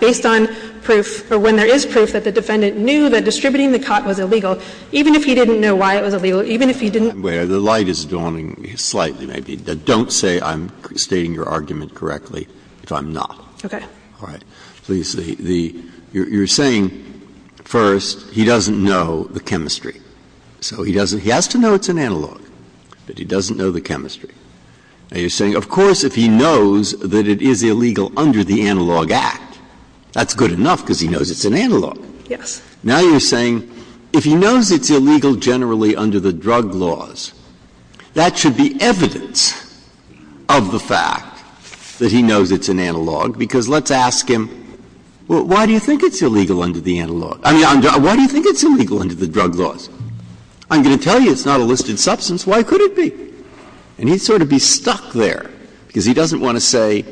based on proof or when there is proof that the defendant knew that distributing the cot was illegal, even if he didn't know why it was illegal, even if he didn't know why it was illegal. Breyer, the light is dawning slightly, maybe. Don't say I'm stating your argument correctly if I'm not. Okay. All right. So you're saying, first, he doesn't know the chemistry. So he doesn't – he has to know it's an analog. But he doesn't know the chemistry. Now, you're saying, of course, if he knows that it is illegal under the Analog Act, that's good enough because he knows it's an analog. Yes. Now, you're saying, if he knows it's illegal generally under the drug laws, that should be evidence of the fact that he knows it's an analog, because let's ask him, well, why do you think it's illegal under the analog? I mean, why do you think it's illegal under the drug laws? I'm going to tell you it's not a listed substance. Why could it be? And he'd sort of be stuck there, because he doesn't want to say,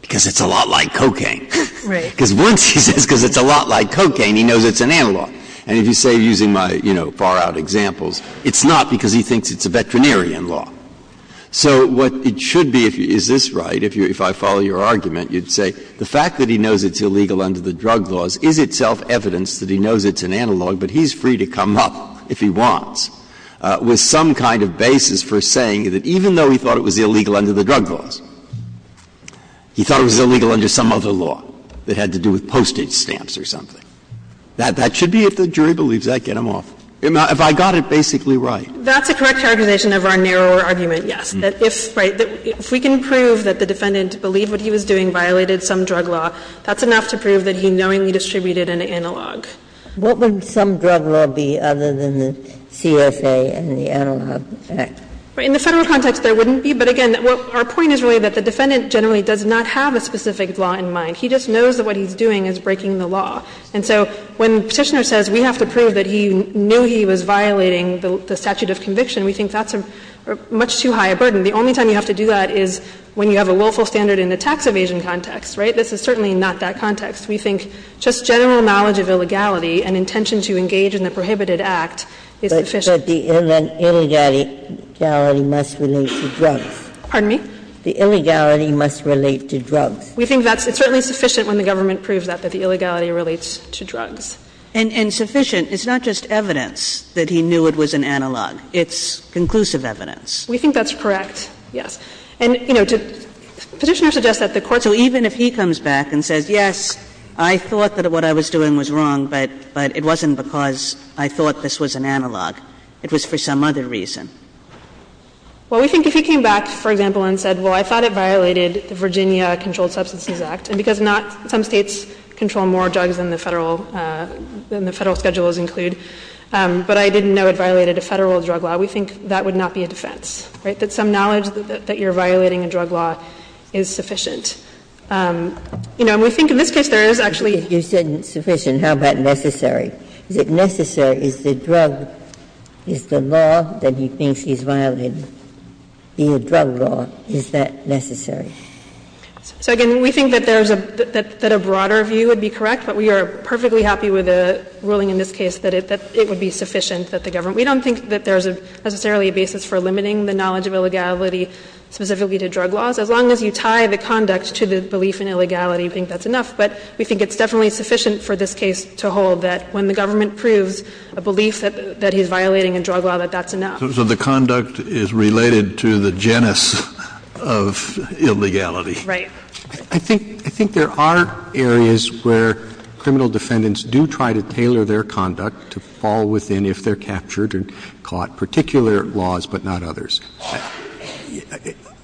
because it's a lot like cocaine. Right. Because once he says, because it's a lot like cocaine, he knows it's an analog. And if you say, using my, you know, far-out examples, it's not because he thinks it's a veterinarian law. So what it should be, is this right, if I follow your argument, you'd say the fact that he knows it's illegal under the drug laws is itself evidence that he knows it's an analog, but he's free to come up, if he wants, with some kind of basis for saying that even though he thought it was illegal under the drug laws, he thought it was illegal under some other law that had to do with postage stamps or something. That should be, if the jury believes that, get him off. If I got it basically right. That's a correct characterization of our narrower argument, yes, that if, right, if we can prove that the defendant believed what he was doing violated some drug law, that's enough to prove that he knowingly distributed an analog. Ginsburg. What would some drug law be other than the CSA and the Analog Act? In the Federal context, there wouldn't be, but again, our point is really that the defendant generally does not have a specific law in mind. He just knows that what he's doing is breaking the law. And so when Petitioner says we have to prove that he knew he was violating the statute of conviction, we think that's a much too high a burden. The only time you have to do that is when you have a willful standard in the tax evasion context, right? This is certainly not that context. We think just general knowledge of illegality and intention to engage in the prohibited act is sufficient. Ginsburg. But the illegality must relate to drugs. Pardon me? The illegality must relate to drugs. We think that's certainly sufficient when the government proves that, that the illegality relates to drugs. And sufficient is not just evidence that he knew it was an analog. It's conclusive evidence. And, you know, Petitioner suggests that the court's law. So even if he comes back and says, yes, I thought that what I was doing was wrong, but it wasn't because I thought this was an analog. It was for some other reason. Well, we think if he came back, for example, and said, well, I thought it violated the Virginia Controlled Substances Act, and because not some States control more drugs than the Federal, than the Federal schedules include, but I didn't know it violated a Federal drug law, we think that would not be a defense, right? That some knowledge that you're violating a drug law is sufficient. You know, and we think in this case there is actually — You said sufficient. How about necessary? Is it necessary? Is the drug, is the law that he thinks he's violating, the drug law, is that necessary? So, again, we think that there's a — that a broader view would be correct, but we are perfectly happy with the ruling in this case that it would be sufficient that the government — we don't think that there's necessarily a basis for limiting the knowledge of illegality specifically to drug laws. As long as you tie the conduct to the belief in illegality, we think that's enough. But we think it's definitely sufficient for this case to hold that when the government proves a belief that he's violating a drug law, that that's enough. So the conduct is related to the genus of illegality. Right. I think — I think there are areas where criminal defendants do try to tailor their conduct to fall within if they're captured and caught particular laws, but not others.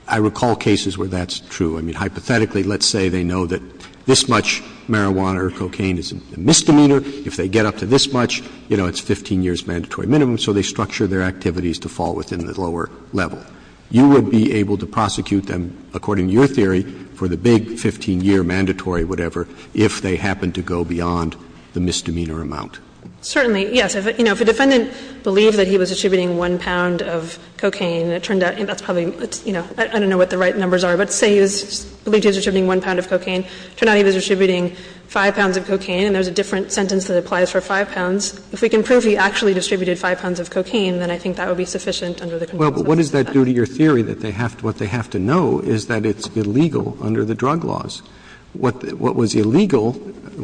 I recall cases where that's true. I mean, hypothetically, let's say they know that this much marijuana or cocaine is a misdemeanor. If they get up to this much, you know, it's 15 years' mandatory minimum, so they structure their activities to fall within the lower level. You would be able to prosecute them, according to your theory, for the big 15-year mandatory whatever if they happen to go beyond the misdemeanor amount. Certainly, yes. If a defendant believed that he was distributing one pound of cocaine, and it turned out — and that's probably, you know, I don't know what the right numbers are, but say he was believing he was distributing one pound of cocaine, it turned out he was distributing five pounds of cocaine, and there's a different sentence that applies for five pounds. If we can prove he actually distributed five pounds of cocaine, then I think that would be sufficient under the control of the defense. Roberts. Well, but what does that do to your theory that they have to — what they have to know is that it's illegal under the drug laws? What was illegal,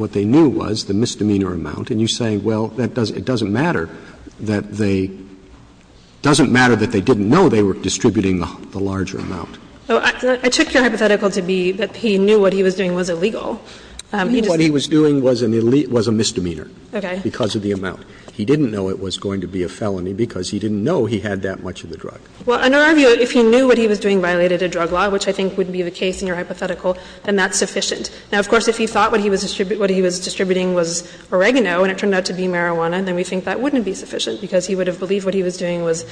what they knew was the misdemeanor amount, and you say, well, that doesn't — it doesn't matter that they — doesn't matter that they didn't know they were distributing the larger amount. I took your hypothetical to be that he knew what he was doing was illegal. He just— What he was doing was an — was a misdemeanor. Okay. Because of the amount. He didn't know it was going to be a felony because he didn't know he had that much of the drug. Well, under our view, if he knew what he was doing violated a drug law, which I think wouldn't be the case in your hypothetical, then that's sufficient. Now, of course, if he thought what he was — what he was distributing was oregano and it turned out to be marijuana, then we think that wouldn't be sufficient because he would have believed what he was doing was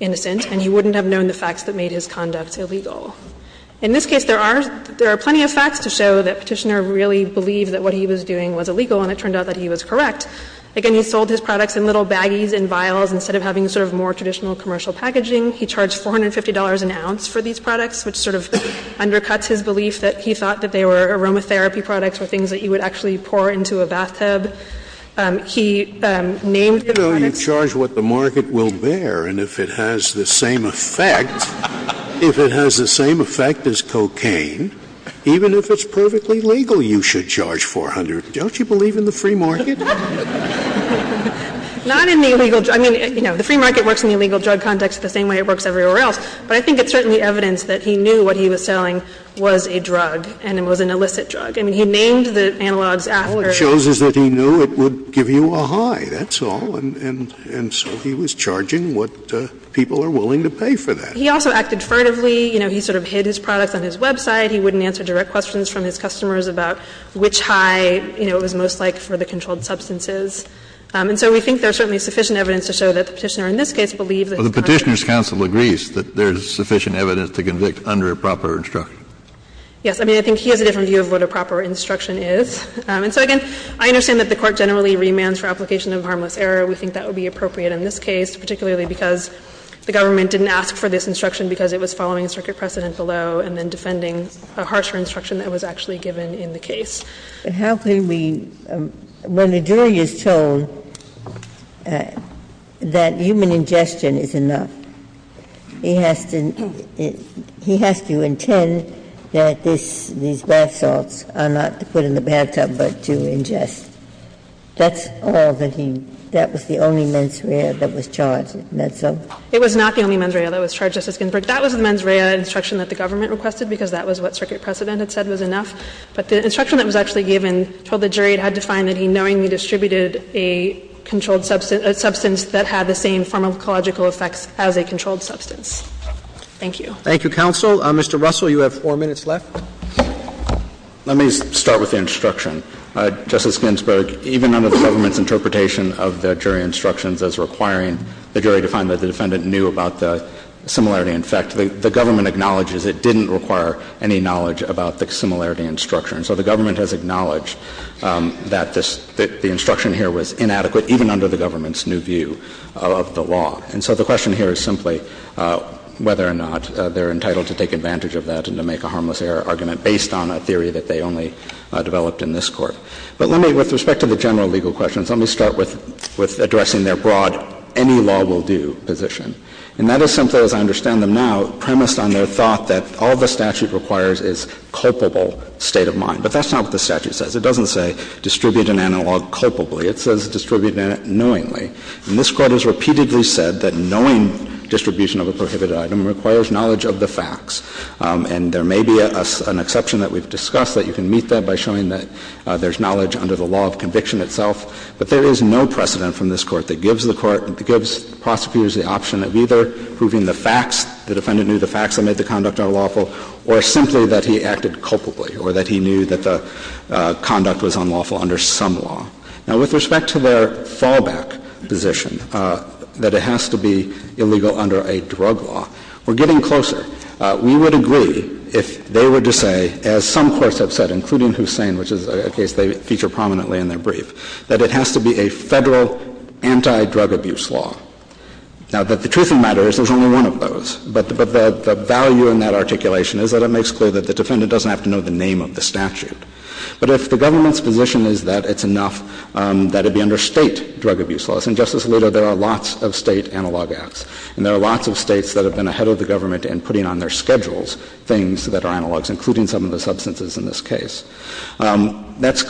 innocent and he wouldn't have known the facts that made his conduct illegal. In this case, there are — there are plenty of facts to show that Petitioner really believed that what he was doing was illegal and it turned out that he was correct. Again, he sold his products in little baggies and vials instead of having sort of more traditional commercial packaging. He charged $450 an ounce for these products, which sort of undercuts his belief that he thought that they were aromatherapy products or things that you would actually pour into a bathtub. He named the products — Scalia, you know, you charge what the market will bear, and if it has the same effect — Scalia, if it has the same effect as cocaine, even if it's perfectly legal, you should charge $400. Don't you believe in the free market? Not in the illegal — I mean, you know, the free market works in the illegal drug context the same way it works everywhere else. But I think it's certainly evidence that he knew what he was selling was a drug, and it was an illicit drug. I mean, he named the analogues after — Scalia, all it shows is that he knew it would give you a high, that's all. And so he was charging what people are willing to pay for that. He also acted furtively. You know, he sort of hid his products on his website. He wouldn't answer direct questions from his customers about which high, you know, it was most like for the controlled substances. And so we think there's certainly sufficient evidence to show that the Petitioner in this case believes that it's not a — Kennedy, but the Petitioner's counsel agrees that there's sufficient evidence to convict under a proper instruction. Yes. I mean, I think he has a different view of what a proper instruction is. And so, again, I understand that the Court generally remands for application of harmless error. We think that would be appropriate in this case, particularly because the government didn't ask for this instruction because it was following a circuit precedent below and then defending a harsher instruction that was actually given in the case. Ginsburg, but how can we — when a jury is told that human ingestion is enough, he has to — he has to intend that this — these bath salts are not to put in the bathtub but to ingest. That's all that he — that was the only mens rea that was charged, isn't that so? It was not the only mens rea that was charged, Justice Ginsburg. That was the mens rea instruction that the government requested because that was what circuit precedent had said was enough. But the instruction that was actually given told the jury it had to find that he knowingly distributed a controlled substance — a substance that had the same pharmacological effects as a controlled substance. Thank you. Thank you, counsel. Mr. Russell, you have four minutes left. Let me start with the instruction. Justice Ginsburg, even under the government's interpretation of the jury instructions as requiring the jury to find that the defendant knew about the similarity in effect, the government acknowledges it didn't require any knowledge about the similarity in structure. And so the government has acknowledged that this — that the instruction here was inadequate even under the government's new view of the law. And so the question here is simply whether or not they're entitled to take advantage of that and to make a harmless error argument based on a theory that they only developed in this Court. But let me — with respect to the general legal questions, let me start with — with addressing their broad any law will do position. And that is something, as I understand them now, premised on their thought that all the statute requires is culpable state of mind. But that's not what the statute says. It doesn't say distribute an analog culpably. It says distribute knowingly. And this Court has repeatedly said that knowing distribution of a prohibited item requires knowledge of the facts. And there may be an exception that we've discussed that you can meet that by showing that there's knowledge under the law of conviction itself, but there is no precedent from this Court that gives the Court — that gives prosecutors the option of either proving the facts, the defendant knew the facts that made the conduct unlawful, or simply that he acted culpably or that he knew that the conduct was unlawful under some law. Now, with respect to their fallback position that it has to be illegal under a drug law, we're getting closer. We would agree if they were to say, as some courts have said, including Hussain, which is a case they feature prominently in their brief, that it has to be a Federal anti-drug abuse law. Now, the truth of the matter is there's only one of those, but the value in that articulation is that it makes clear that the defendant doesn't have to know the name of the statute. But if the government's position is that it's enough that it be under State drug abuse laws — and, Justice Alito, there are lots of State analog acts, and there are lots of States that have been ahead of the government in putting on their schedules things that are analogs, including some of the substances in this case — that's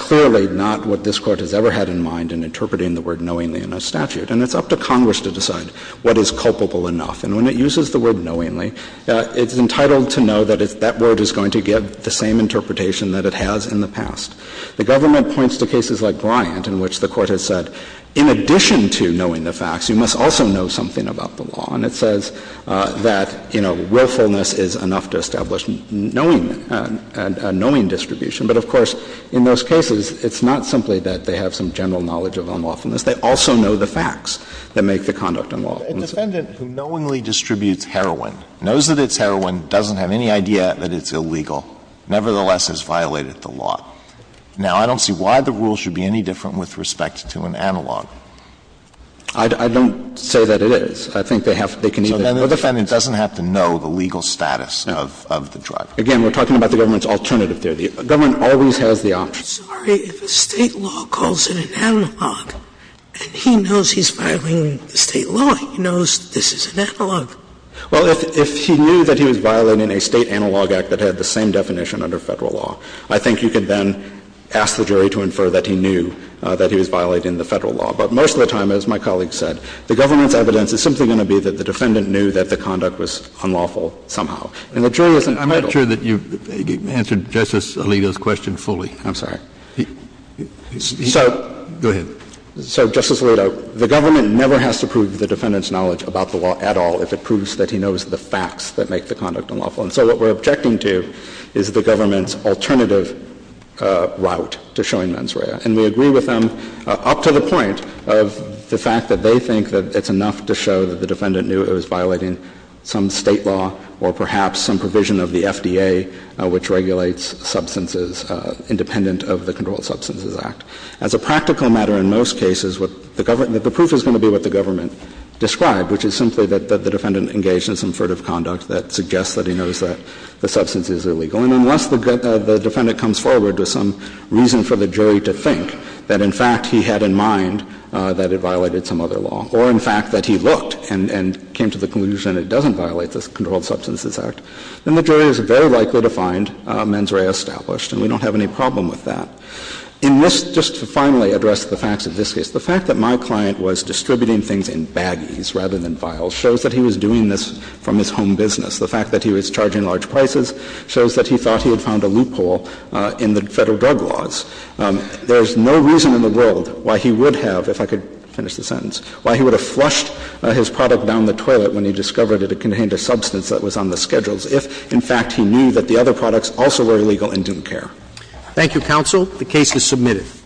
And it's up to Congress to decide what is culpable enough. And when it uses the word knowingly, it's entitled to know that that word is going to give the same interpretation that it has in the past. The government points to cases like Bryant, in which the Court has said, in addition to knowing the facts, you must also know something about the law. And it says that, you know, willfulness is enough to establish knowing — a knowing distribution. But, of course, in those cases, it's not simply that they have some general knowledge of unlawfulness. They also know the facts that make the conduct unlawful. Alito, who knowingly distributes heroin, knows that it's heroin, doesn't have any idea that it's illegal, nevertheless has violated the law. Now, I don't see why the rule should be any different with respect to an analog. I don't say that it is. I think they have — they can either — So then the defendant doesn't have to know the legal status of the drug. Again, we're talking about the government's alternative there. The government always has the option. I'm sorry, if a State law calls it an analog, and he knows he's violating the State law, he knows this is an analog. Well, if he knew that he was violating a State analog act that had the same definition under Federal law, I think you could then ask the jury to infer that he knew that he was violating the Federal law. But most of the time, as my colleague said, the government's evidence is simply going to be that the defendant knew that the conduct was unlawful somehow. And the jury isn't entitled to that. I'm not sure that you've answered Justice Alito's question fully. I'm sorry. He — he — So — Go ahead. So, Justice Alito, the government never has to prove the defendant's knowledge about the law at all if it proves that he knows the facts that make the conduct unlawful. And so what we're objecting to is the government's alternative route to showing mens rea. And we agree with them up to the point of the fact that they think that it's enough to show that the defendant knew he was violating some State law or perhaps some provision of the FDA which regulates substances independent of the Controlled Substances Act. As a practical matter, in most cases, what the government — the proof is going to be what the government described, which is simply that the defendant engaged in some furtive conduct that suggests that he knows that the substance is illegal. And unless the defendant comes forward with some reason for the jury to think that, in fact, he had in mind that it violated some other law or, in fact, that he looked and came to the conclusion it doesn't violate the Controlled Substances Act, then the jury is very likely to find mens rea established, and we don't have any problem with that. In this, just to finally address the facts of this case, the fact that my client was distributing things in baggies rather than vials shows that he was doing this from his home business. The fact that he was charging large prices shows that he thought he had found a loophole in the Federal drug laws. There is no reason in the world why he would have, if I could finish the sentence, why he would have flushed his product down the toilet when he discovered it contained a substance that was on the schedules, if, in fact, he knew that the other products also were illegal in DUNCARE. Roberts. Thank you, counsel. The case is submitted.